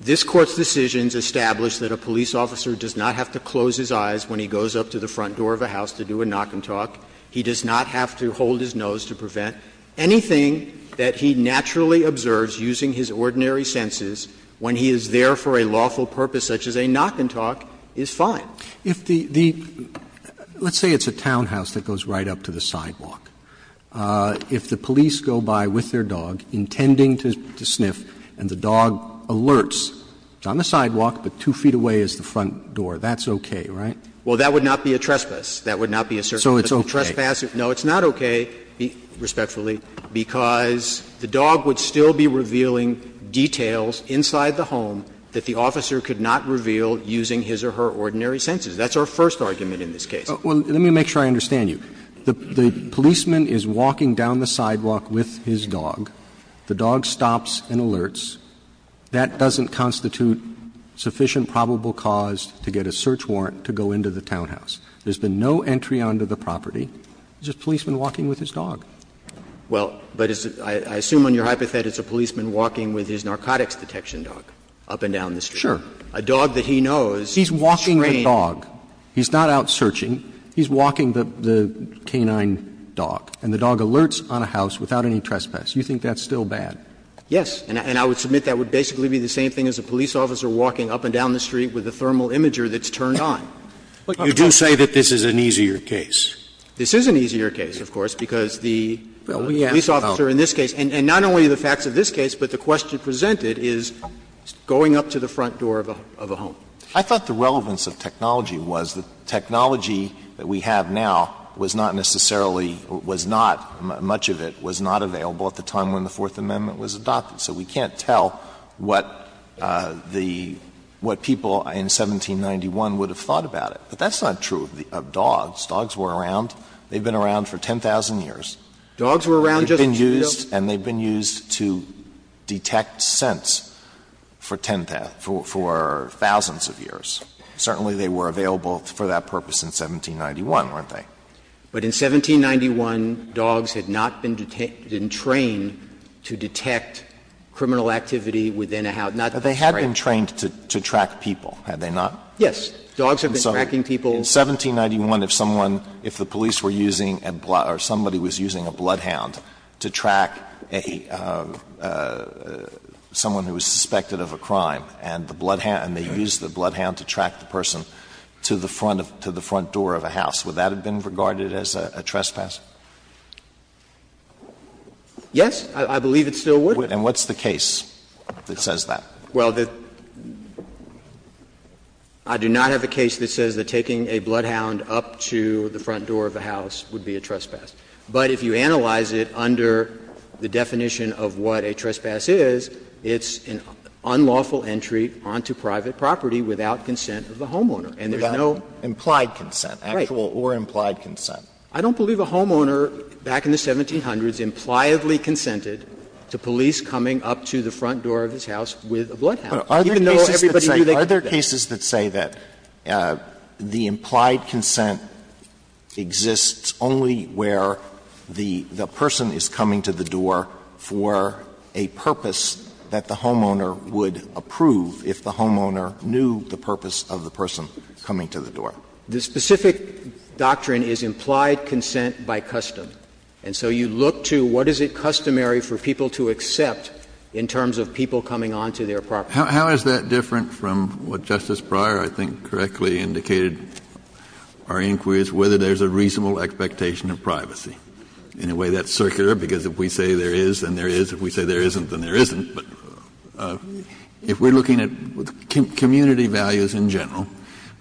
This Court's decisions establish that a police officer does not have to close his eyes when he goes up to the front door of a house to do a knock and talk. He does not have to hold his nose to prevent. Anything that he naturally observes using his ordinary senses when he is there for a lawful purpose such as a knock and talk is fine. If the the let's say it's a townhouse that goes right up to the sidewalk. If the police go by with their dog, intending to sniff, and the dog alerts, it's on the sidewalk, but two feet away is the front door, that's okay, right? Well, that would not be a trespass. That would not be a search. So it's okay. No, it's not okay, respectfully, because the dog would still be revealing details inside the home that the officer could not reveal using his or her ordinary senses. That's our first argument in this case. Well, let me make sure I understand you. The policeman is walking down the sidewalk with his dog. The dog stops and alerts. That doesn't constitute sufficient probable cause to get a search warrant to go into the townhouse. There's been no entry onto the property. It's just a policeman walking with his dog. Well, but I assume on your hypothetic it's a policeman walking with his narcotics detection dog up and down the street. Sure. A dog that he knows. He's walking the dog. He's not out searching. He's walking the canine dog, and the dog alerts on a house without any trespass. You think that's still bad? Yes. And I would submit that would basically be the same thing as a police officer walking up and down the street with a thermal imager that's turned on. But you do say that this is an easier case. This is an easier case, of course, because the police officer in this case, and not only the facts of this case, but the question presented is going up to the front door of a home. I thought the relevance of technology was that technology that we have now was not necessarily was not, much of it was not available at the time when the Fourth Amendment was adopted. So we can't tell what the, what people in 1791 would have thought about it. But that's not true of dogs. Dogs were around. They've been around for 10,000 years. Dogs were around just as we know? They were used to detect scents for 10,000, for thousands of years. Certainly, they were available for that purpose in 1791, weren't they? But in 1791, dogs had not been trained to detect criminal activity within a house. They had been trained to track people, had they not? Yes. Dogs have been tracking people. In 1791, if someone, if the police were using a blood, or somebody was using a blood hound, or someone who was suspected of a crime, and the blood hound, and they used the blood hound to track the person to the front of, to the front door of a house, would that have been regarded as a trespass? Yes. I believe it still would. And what's the case that says that? Well, I do not have a case that says that taking a blood hound up to the front door of a house would be a trespass. But if you analyze it under the definition of what a trespass is, it's an unlawful entry onto private property without consent of the homeowner. And there's no implied consent, actual or implied consent. I don't believe a homeowner back in the 1700s impliedly consented to police coming up to the front door of his house with a blood hound, even though everybody knew they could. Are there cases that say that the implied consent exists only where the person is coming to the door for a purpose that the homeowner would approve if the homeowner knew the purpose of the person coming to the door? The specific doctrine is implied consent by custom. And so you look to what is it customary for people to accept in terms of people coming onto their property. Kennedy, how is that different from what Justice Breyer, I think, correctly indicated in our inquiries, whether there's a reasonable expectation of privacy? In a way, that's circular, because if we say there is, then there is. If we say there isn't, then there isn't. But if we're looking at community values in general,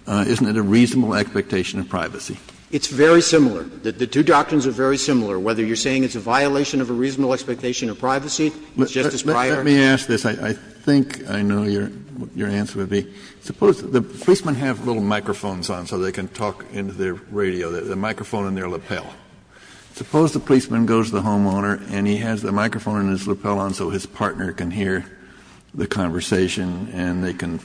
isn't it a reasonable expectation of privacy? It's very similar. The two doctrines are very similar. Whether you're saying it's a violation of a reasonable expectation of privacy, Justice Breyer. Kennedy, let me ask this. I think I know your answer would be, suppose the policeman has little microphones on so they can talk into their radio, the microphone on their lapel. Suppose the policeman goes to the homeowner and he has the microphone on his lapel on so his partner can hear the conversation and they can,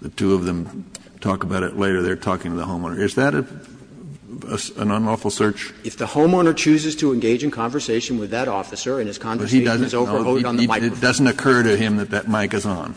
the two of them talk about it later, they're talking to the homeowner. Is that an unlawful search? If the homeowner chooses to engage in conversation with that officer and his conversation is over, he's overvoted on the microphone. It doesn't occur to him that that mic is on.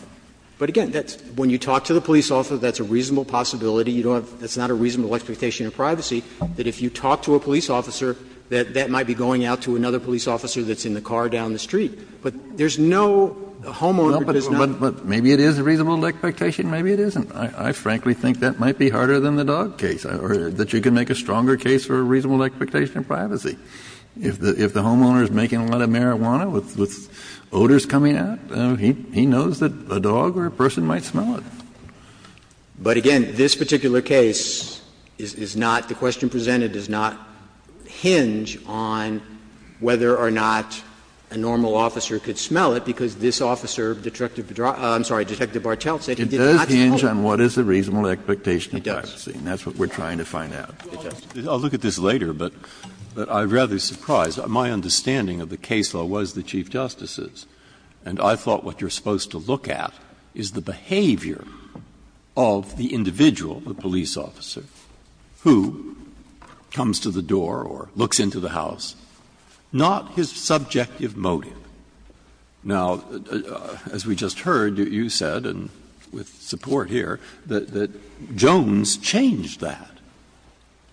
But, again, when you talk to the police officer, that's a reasonable possibility. You don't have to, that's not a reasonable expectation of privacy, that if you talk to a police officer, that that might be going out to another police officer that's in the car down the street. But there's no, the homeowner does not. But maybe it is a reasonable expectation, maybe it isn't. I frankly think that might be harder than the dog case, or that you can make a stronger case for a reasonable expectation of privacy. If the homeowner is making a lot of marijuana with odors coming out, he knows that a dog or a person might smell it. But, again, this particular case is not, the question presented does not hinge on whether or not a normal officer could smell it, because this officer, Detective, I'm sorry, Detective Bartelt said he did not smell it. It does hinge on what is a reasonable expectation of privacy, and that's what we're trying to find out. Breyer. Breyer. I'll look at this later, but I'm rather surprised. My understanding of the case law was the Chief Justice's, and I thought what you're supposed to look at is the behavior of the individual, the police officer, who comes to the door or looks into the house, not his subjective motive. Now, as we just heard, you said, and with support here, that Jones changed that.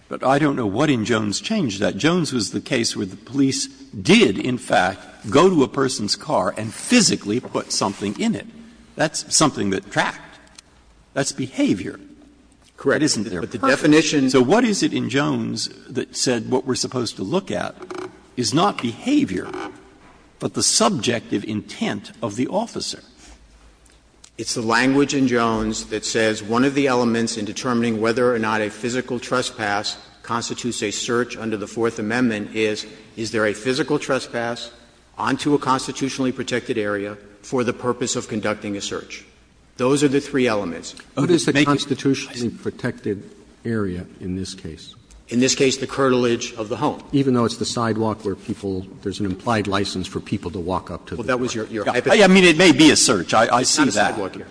But I don't know what in Jones changed that. Jones was the case where the police did, in fact, go to a person's car and physically put something in it. That's something that tracked. That's behavior. Correct, isn't it? But the definition. So what is it in Jones that said what we're supposed to look at is not behavior, but the subjective intent of the officer? It's the language in Jones that says one of the elements in determining whether or not a physical trespass constitutes a search under the Fourth Amendment is, is there a physical trespass onto a constitutionally protected area for the purpose of conducting a search? Those are the three elements. Roberts. Roberts. What is the constitutionally protected area in this case? In this case, the curtilage of the home. Even though it's the sidewalk where people – there's an implied license for people to walk up to the front door? Well, that was your hypothesis. I mean, it may be a search. I see that. It's not a sidewalk here.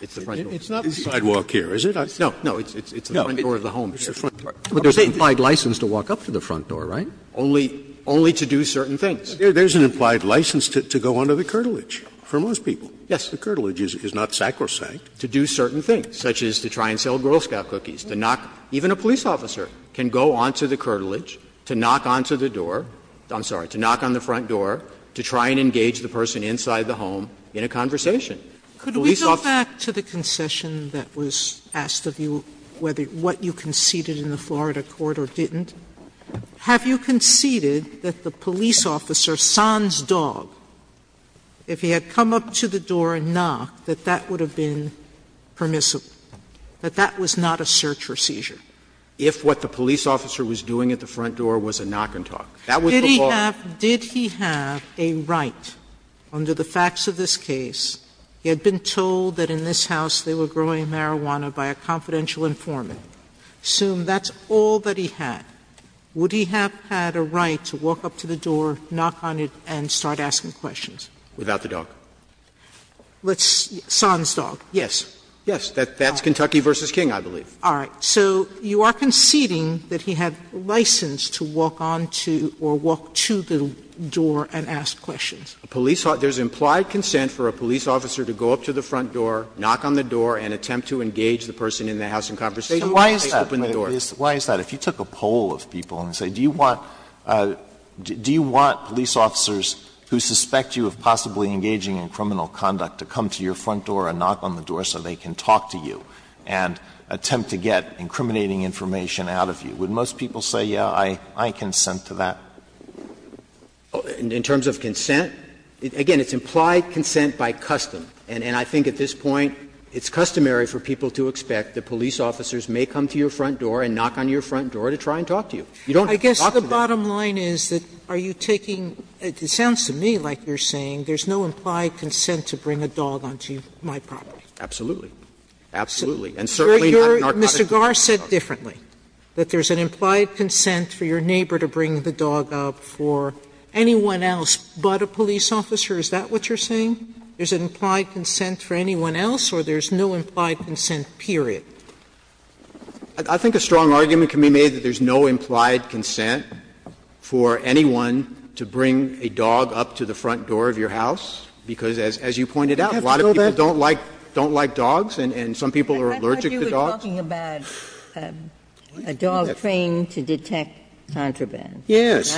It's the front door. It's not a sidewalk here, is it? No, no. It's the front door of the home. It's the front door. But there's an implied license to walk up to the front door, right? Only, only to do certain things. There's an implied license to go onto the curtilage for most people. Yes. The curtilage is not sacrosanct. To do certain things, such as to try and sell Girl Scout cookies, to knock. Even a police officer can go onto the curtilage to knock onto the door – I'm sorry, to knock on the front door to try and engage the person inside the home in a conversation. Could we go back to the concession that was asked of you, whether what you conceded in the Florida court or didn't? Have you conceded that the police officer, San's dog, if he had come up to the door and knocked, that that would have been permissible, that that was not a search or seizure? If what the police officer was doing at the front door was a knock and talk. That was the point. Sotomayor, did he have a right, under the facts of this case, he had been told that in this house they were growing marijuana by a confidential informant. Assume that's all that he had. Would he have had a right to walk up to the door, knock on it, and start asking questions? Without the dog. Let's – San's dog. Yes. Yes. That's Kentucky v. King, I believe. All right. So you are conceding that he had license to walk on to or walk to the door and ask questions. There's implied consent for a police officer to go up to the front door, knock on the door, and attempt to engage the person in the house in conversation when they open the door. Why is that? If you took a poll of people and say, do you want police officers who suspect you of possibly engaging in criminal conduct to come to your front door and knock on the door so they can talk to you and attempt to get incriminating information out of you, would most people say, yes, I consent to that? In terms of consent, again, it's implied consent by custom. And I think at this point it's customary for people to expect that police officers may come to your front door and knock on your front door to try and talk to you. You don't have to talk to them. Sotomayor, I guess the bottom line is that are you taking – it sounds to me like you're saying there's no implied consent to bring a dog onto my property. Absolutely. Absolutely. And certainly not in our context. Mr. Garre said differently, that there's an implied consent for your neighbor to bring the dog up for anyone else but a police officer. Is that what you're saying? There's an implied consent for anyone else or there's no implied consent, period? I think a strong argument can be made that there's no implied consent for anyone to bring a dog up to the front door of your house, because as you pointed out, a lot of people don't like – don't like dogs and some people are allergic to dogs. I thought you were talking about a dog trained to detect contraband. Yes.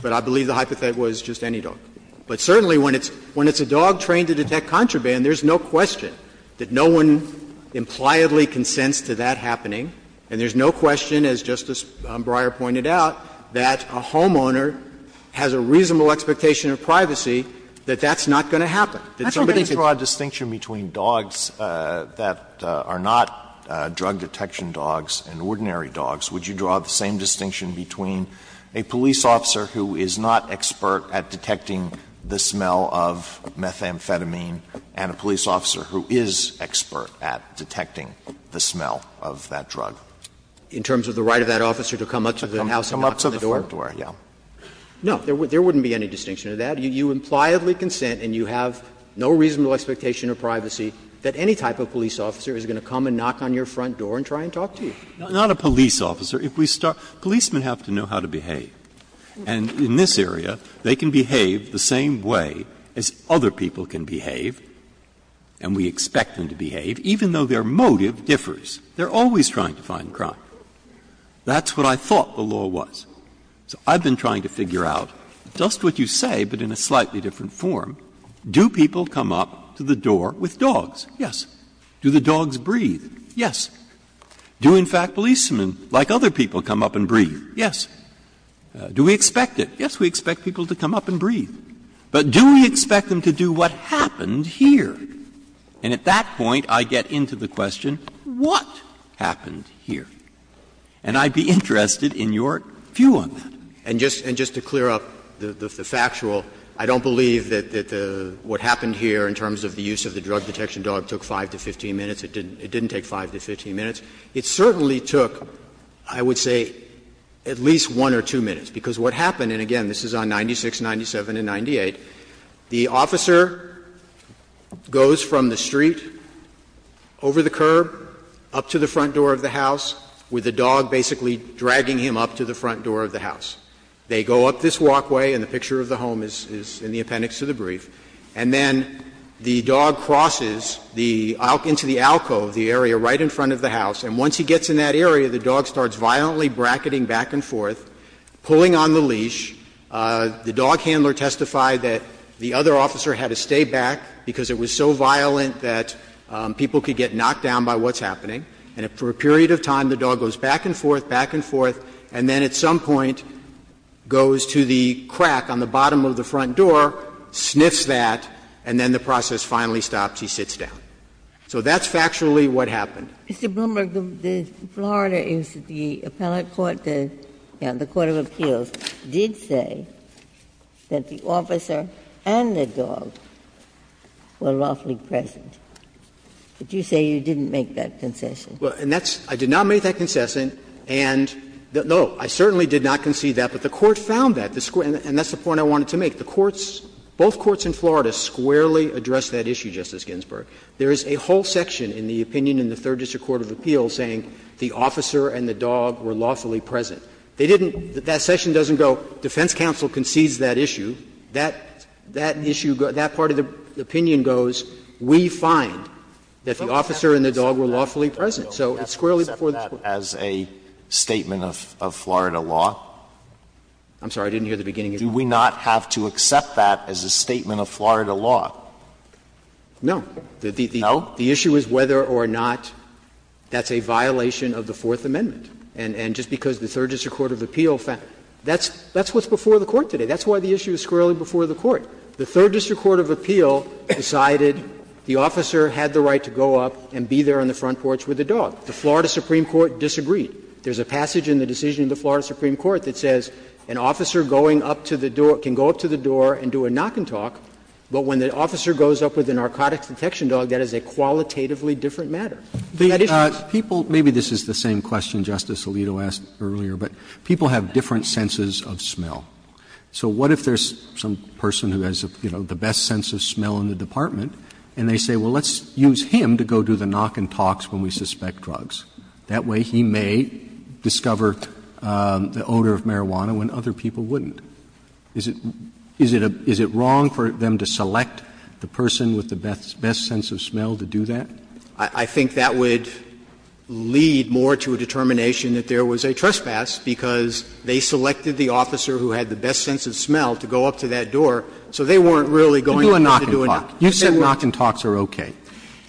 But I believe the hypothetic was just any dog. But certainly when it's a dog trained to detect contraband, there's no question that no one impliedly consents to that happening, and there's no question, as Justice Breyer pointed out, that a homeowner has a reasonable expectation of privacy that that's not going to happen, that somebody could. Alito, did you draw a distinction between dogs that are not drug detection dogs and ordinary dogs? Would you draw the same distinction between a police officer who is not expert at detecting the smell of methamphetamine and a police officer who is expert at detecting the smell of that drug? In terms of the right of that officer to come up to the house and knock on the door? No. There wouldn't be any distinction to that. You impliedly consent and you have no reasonable expectation of privacy that any type of police officer is going to come and knock on your front door and try and talk to you. Breyer. Not a police officer. If we start – policemen have to know how to behave. And in this area, they can behave the same way as other people can behave, and we expect them to behave, even though their motive differs. They are always trying to find crime. That's what I thought the law was. So I've been trying to figure out, just what you say, but in a slightly different form, do people come up to the door with dogs? Yes. Do the dogs breathe? Yes. Do, in fact, policemen, like other people, come up and breathe? Yes. Do we expect it? Yes, we expect people to come up and breathe. But do we expect them to do what happened here? And at that point, I get into the question, what happened here? And I'd be interested in your view on that. And just to clear up the factual, I don't believe that what happened here in terms of the use of the drug detection dog took 5 to 15 minutes. It didn't take 5 to 15 minutes. It certainly took, I would say, at least 1 or 2 minutes, because what happened here is that the dog goes up to the front door of the house, and again, this is on 96, 97, and 98, the officer goes from the street, over the curb, up to the front door of the house, with the dog basically dragging him up to the front door of the house. They go up this walkway, and the picture of the home is in the appendix of the brief, and then the dog crosses the alcove, the area right in front of the house, and once he gets in that area, the dog starts violently bracketing back and forth, pulling on the leash. The dog handler testified that the other officer had to stay back because it was so violent that people could get knocked down by what's happening. And for a period of time, the dog goes back and forth, back and forth, and then at some point goes to the crack on the bottom of the front door, sniffs that, and then the process finally stops. He sits down. So that's factually what happened. Ginsburg. Mr. Blumberg, the Florida, the appellate court, the court of appeals, did say that the officer and the dog were lawfully present. But you say you didn't make that concession. Blumberg. And that's – I did not make that concession, and no, I certainly did not concede that, but the Court found that. And that's the point I wanted to make. The courts, both courts in Florida squarely addressed that issue, Justice Ginsburg. There is a whole section in the opinion in the Third District Court of Appeals saying the officer and the dog were lawfully present. They didn't – that section doesn't go, defense counsel concedes that issue. That issue, that part of the opinion goes, we find that the officer and the dog were lawfully present. So it's squarely before the court. Alito, do we have to accept that as a statement of Florida law? I'm sorry, I didn't hear the beginning of your question. Do we not have to accept that as a statement of Florida law? No. No? The issue is whether or not that's a violation of the Fourth Amendment. And just because the Third District Court of Appeals found – that's what's before the court today. That's why the issue is squarely before the court. The Third District Court of Appeals decided the officer had the right to go up and be there on the front porch with the dog. The Florida Supreme Court disagreed. There's a passage in the decision in the Florida Supreme Court that says an officer going up to the door – can go up to the door and do a knock and talk, but when the dog is there, that is a qualitatively different matter. That issue is squarely before the court. Maybe this is the same question Justice Alito asked earlier, but people have different senses of smell. So what if there's some person who has, you know, the best sense of smell in the department, and they say, well, let's use him to go do the knock and talks when we suspect drugs? That way he may discover the odor of marijuana when other people wouldn't. Is it wrong for them to select the person with the best sense of smell to do that? I think that would lead more to a determination that there was a trespass because they selected the officer who had the best sense of smell to go up to that door, so they weren't really going to do a knock and talk. You said knock and talks are okay.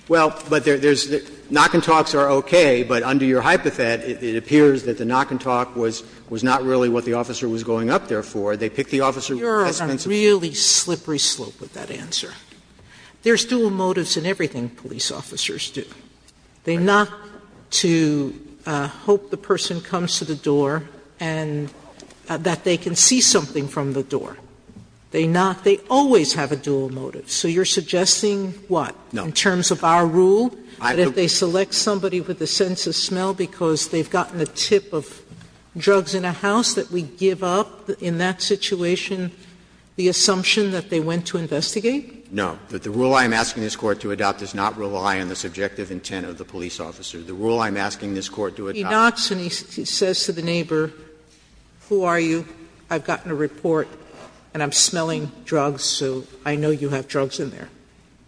Well, but there's – knock and talks are okay, but under your hypothet, it appears that the knock and talk was not really what the officer was going up there for. They picked the officer with the best sense of smell. Sotomayor You're on a really slippery slope with that answer. There's dual motives in everything police officers do. They knock to hope the person comes to the door and that they can see something from the door. They knock. They always have a dual motive. So you're suggesting what? In terms of our rule, that if they select somebody with a sense of smell because they've gotten a tip of drugs in a house, that we give up in that situation the assumption that they went to investigate? No. The rule I'm asking this Court to adopt does not rely on the subjective intent of the police officer. The rule I'm asking this Court to adopt is not. Sotomayor He knocks and he says to the neighbor, who are you? I've gotten a report and I'm smelling drugs, so I know you have drugs in there.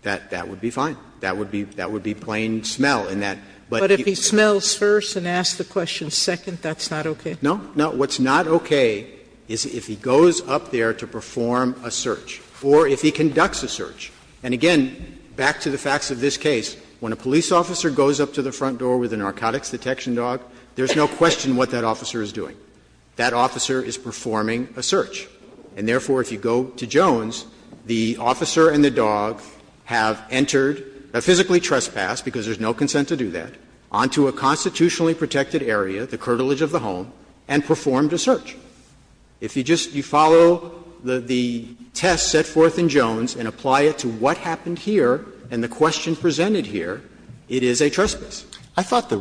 That would be fine. That would be plain smell in that. But if he smells first and asks the question second, that's not okay? No. No. What's not okay is if he goes up there to perform a search or if he conducts a search. And again, back to the facts of this case, when a police officer goes up to the front door with a narcotics detection dog, there's no question what that officer is doing. That officer is performing a search. And therefore, if you go to Jones, the officer and the dog have entered, have physically trespassed, because there's no consent to do that, onto a constitutionally protected area, the curtilage of the home, and performed a search. If you just follow the test set forth in Jones and apply it to what happened here and the question presented here, it is a trespass. I thought the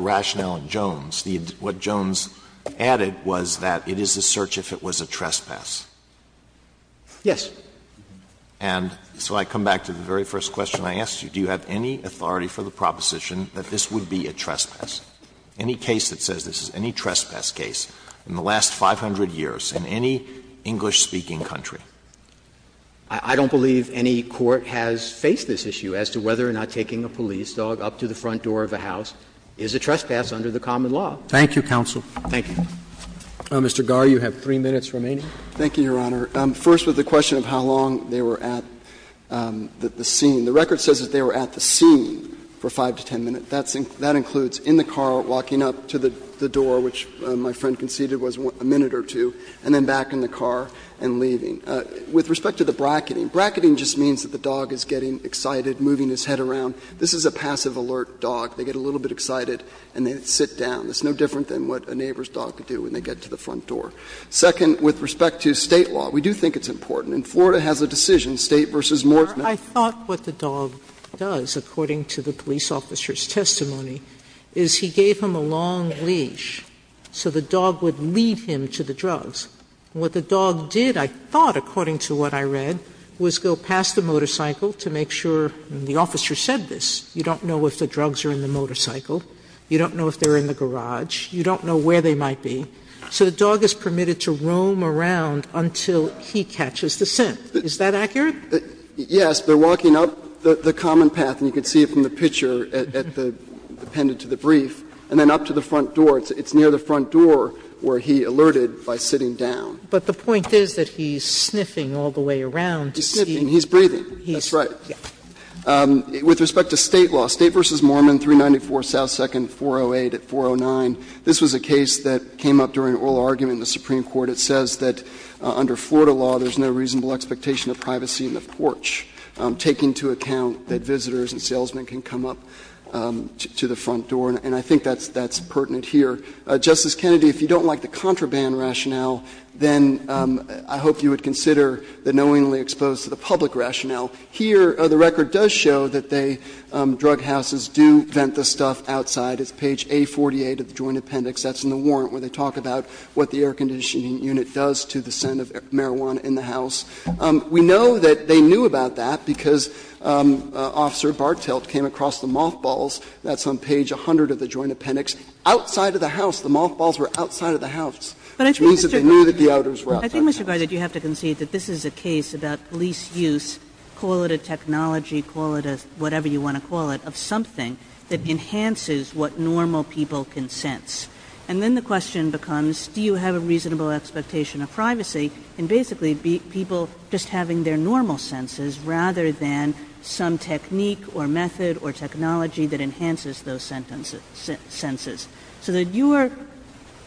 rationale in Jones, what Jones added was that it is a search if it was a trespass. Yes. And so I come back to the very first question I asked you. Do you have any authority for the proposition that this would be a trespass? Any case that says this is any trespass case in the last 500 years in any English-speaking country. I don't believe any court has faced this issue as to whether or not taking a police dog up to the front door of a house is a trespass under the common law. Thank you, counsel. Thank you. Mr. Garre, you have 3 minutes remaining. Thank you, Your Honor. First, with the question of how long they were at the scene. The record says that they were at the scene for 5 to 10 minutes. That includes in the car, walking up to the door, which my friend conceded was a minute or two, and then back in the car and leaving. With respect to the bracketing, bracketing just means that the dog is getting excited, moving his head around. This is a passive alert dog. They get a little bit excited and they sit down. It's no different than what a neighbor's dog would do when they get to the front door. Second, with respect to State law, we do think it's important. And Florida has a decision, State v. Moore's Method. Sotomayor, I thought what the dog does, according to the police officer's testimony, is he gave him a long leash so the dog would lead him to the drugs. What the dog did, I thought, according to what I read, was go past the motorcycle to make sure the officer said this. You don't know if the drugs are in the motorcycle. You don't know if they're in the garage. You don't know where they might be. So the dog is permitted to roam around until he catches the scent. Is that accurate? Yes. They're walking up the common path, and you can see it from the picture at the appendage of the brief, and then up to the front door. It's near the front door where he alerted by sitting down. But the point is that he's sniffing all the way around to see. He's sniffing. He's breathing. That's right. With respect to State law, State v. Moorman, 394 S. 2nd, 408 at 409, this was a case that came up during an oral argument in the Supreme Court. It says that under Florida law, there's no reasonable expectation of privacy in the porch, taking into account that visitors and salesmen can come up to the front door, and I think that's pertinent here. Justice Kennedy, if you don't like the contraband rationale, then I hope you would consider the knowingly exposed to the public rationale. Here, the record does show that they, drug houses, do vent the stuff outside. It's page A48 of the Joint Appendix. That's in the warrant, where they talk about what the air conditioning unit does to the scent of marijuana in the house. We know that they knew about that because Officer Bartelt came across the mothballs – that's on page 100 of the Joint Appendix – outside of the house. The mothballs were outside of the house. It means that they knew that the ouders were outside. Kagan. Kagan. I think, Mr. Garza, you have to concede that this is a case about police use, call it a technology, call it a – whatever you want to call it – of something that enhances what normal people can sense. And then the question becomes, do you have a reasonable expectation of privacy in basically people just having their normal senses rather than some technique or method or technology that enhances those senses? So that your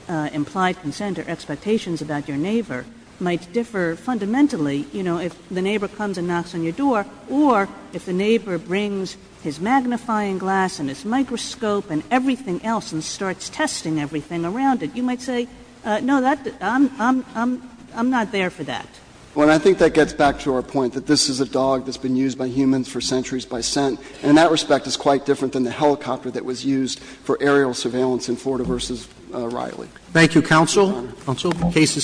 implied consent or expectations about your neighbor might differ fundamentally, you know, if the neighbor comes and knocks on your door or if the neighbor brings his magnifying glass and his microscope and everything else and starts testing everything around it, you might say, no, I'm not there for that. Well, and I think that gets back to our point that this is a dog that's been used by humans for centuries by scent, and in that respect it's quite different than the helicopter that was used for aerial surveillance in Florida v. Riley. Thank you, counsel. Counsel, the case is submitted.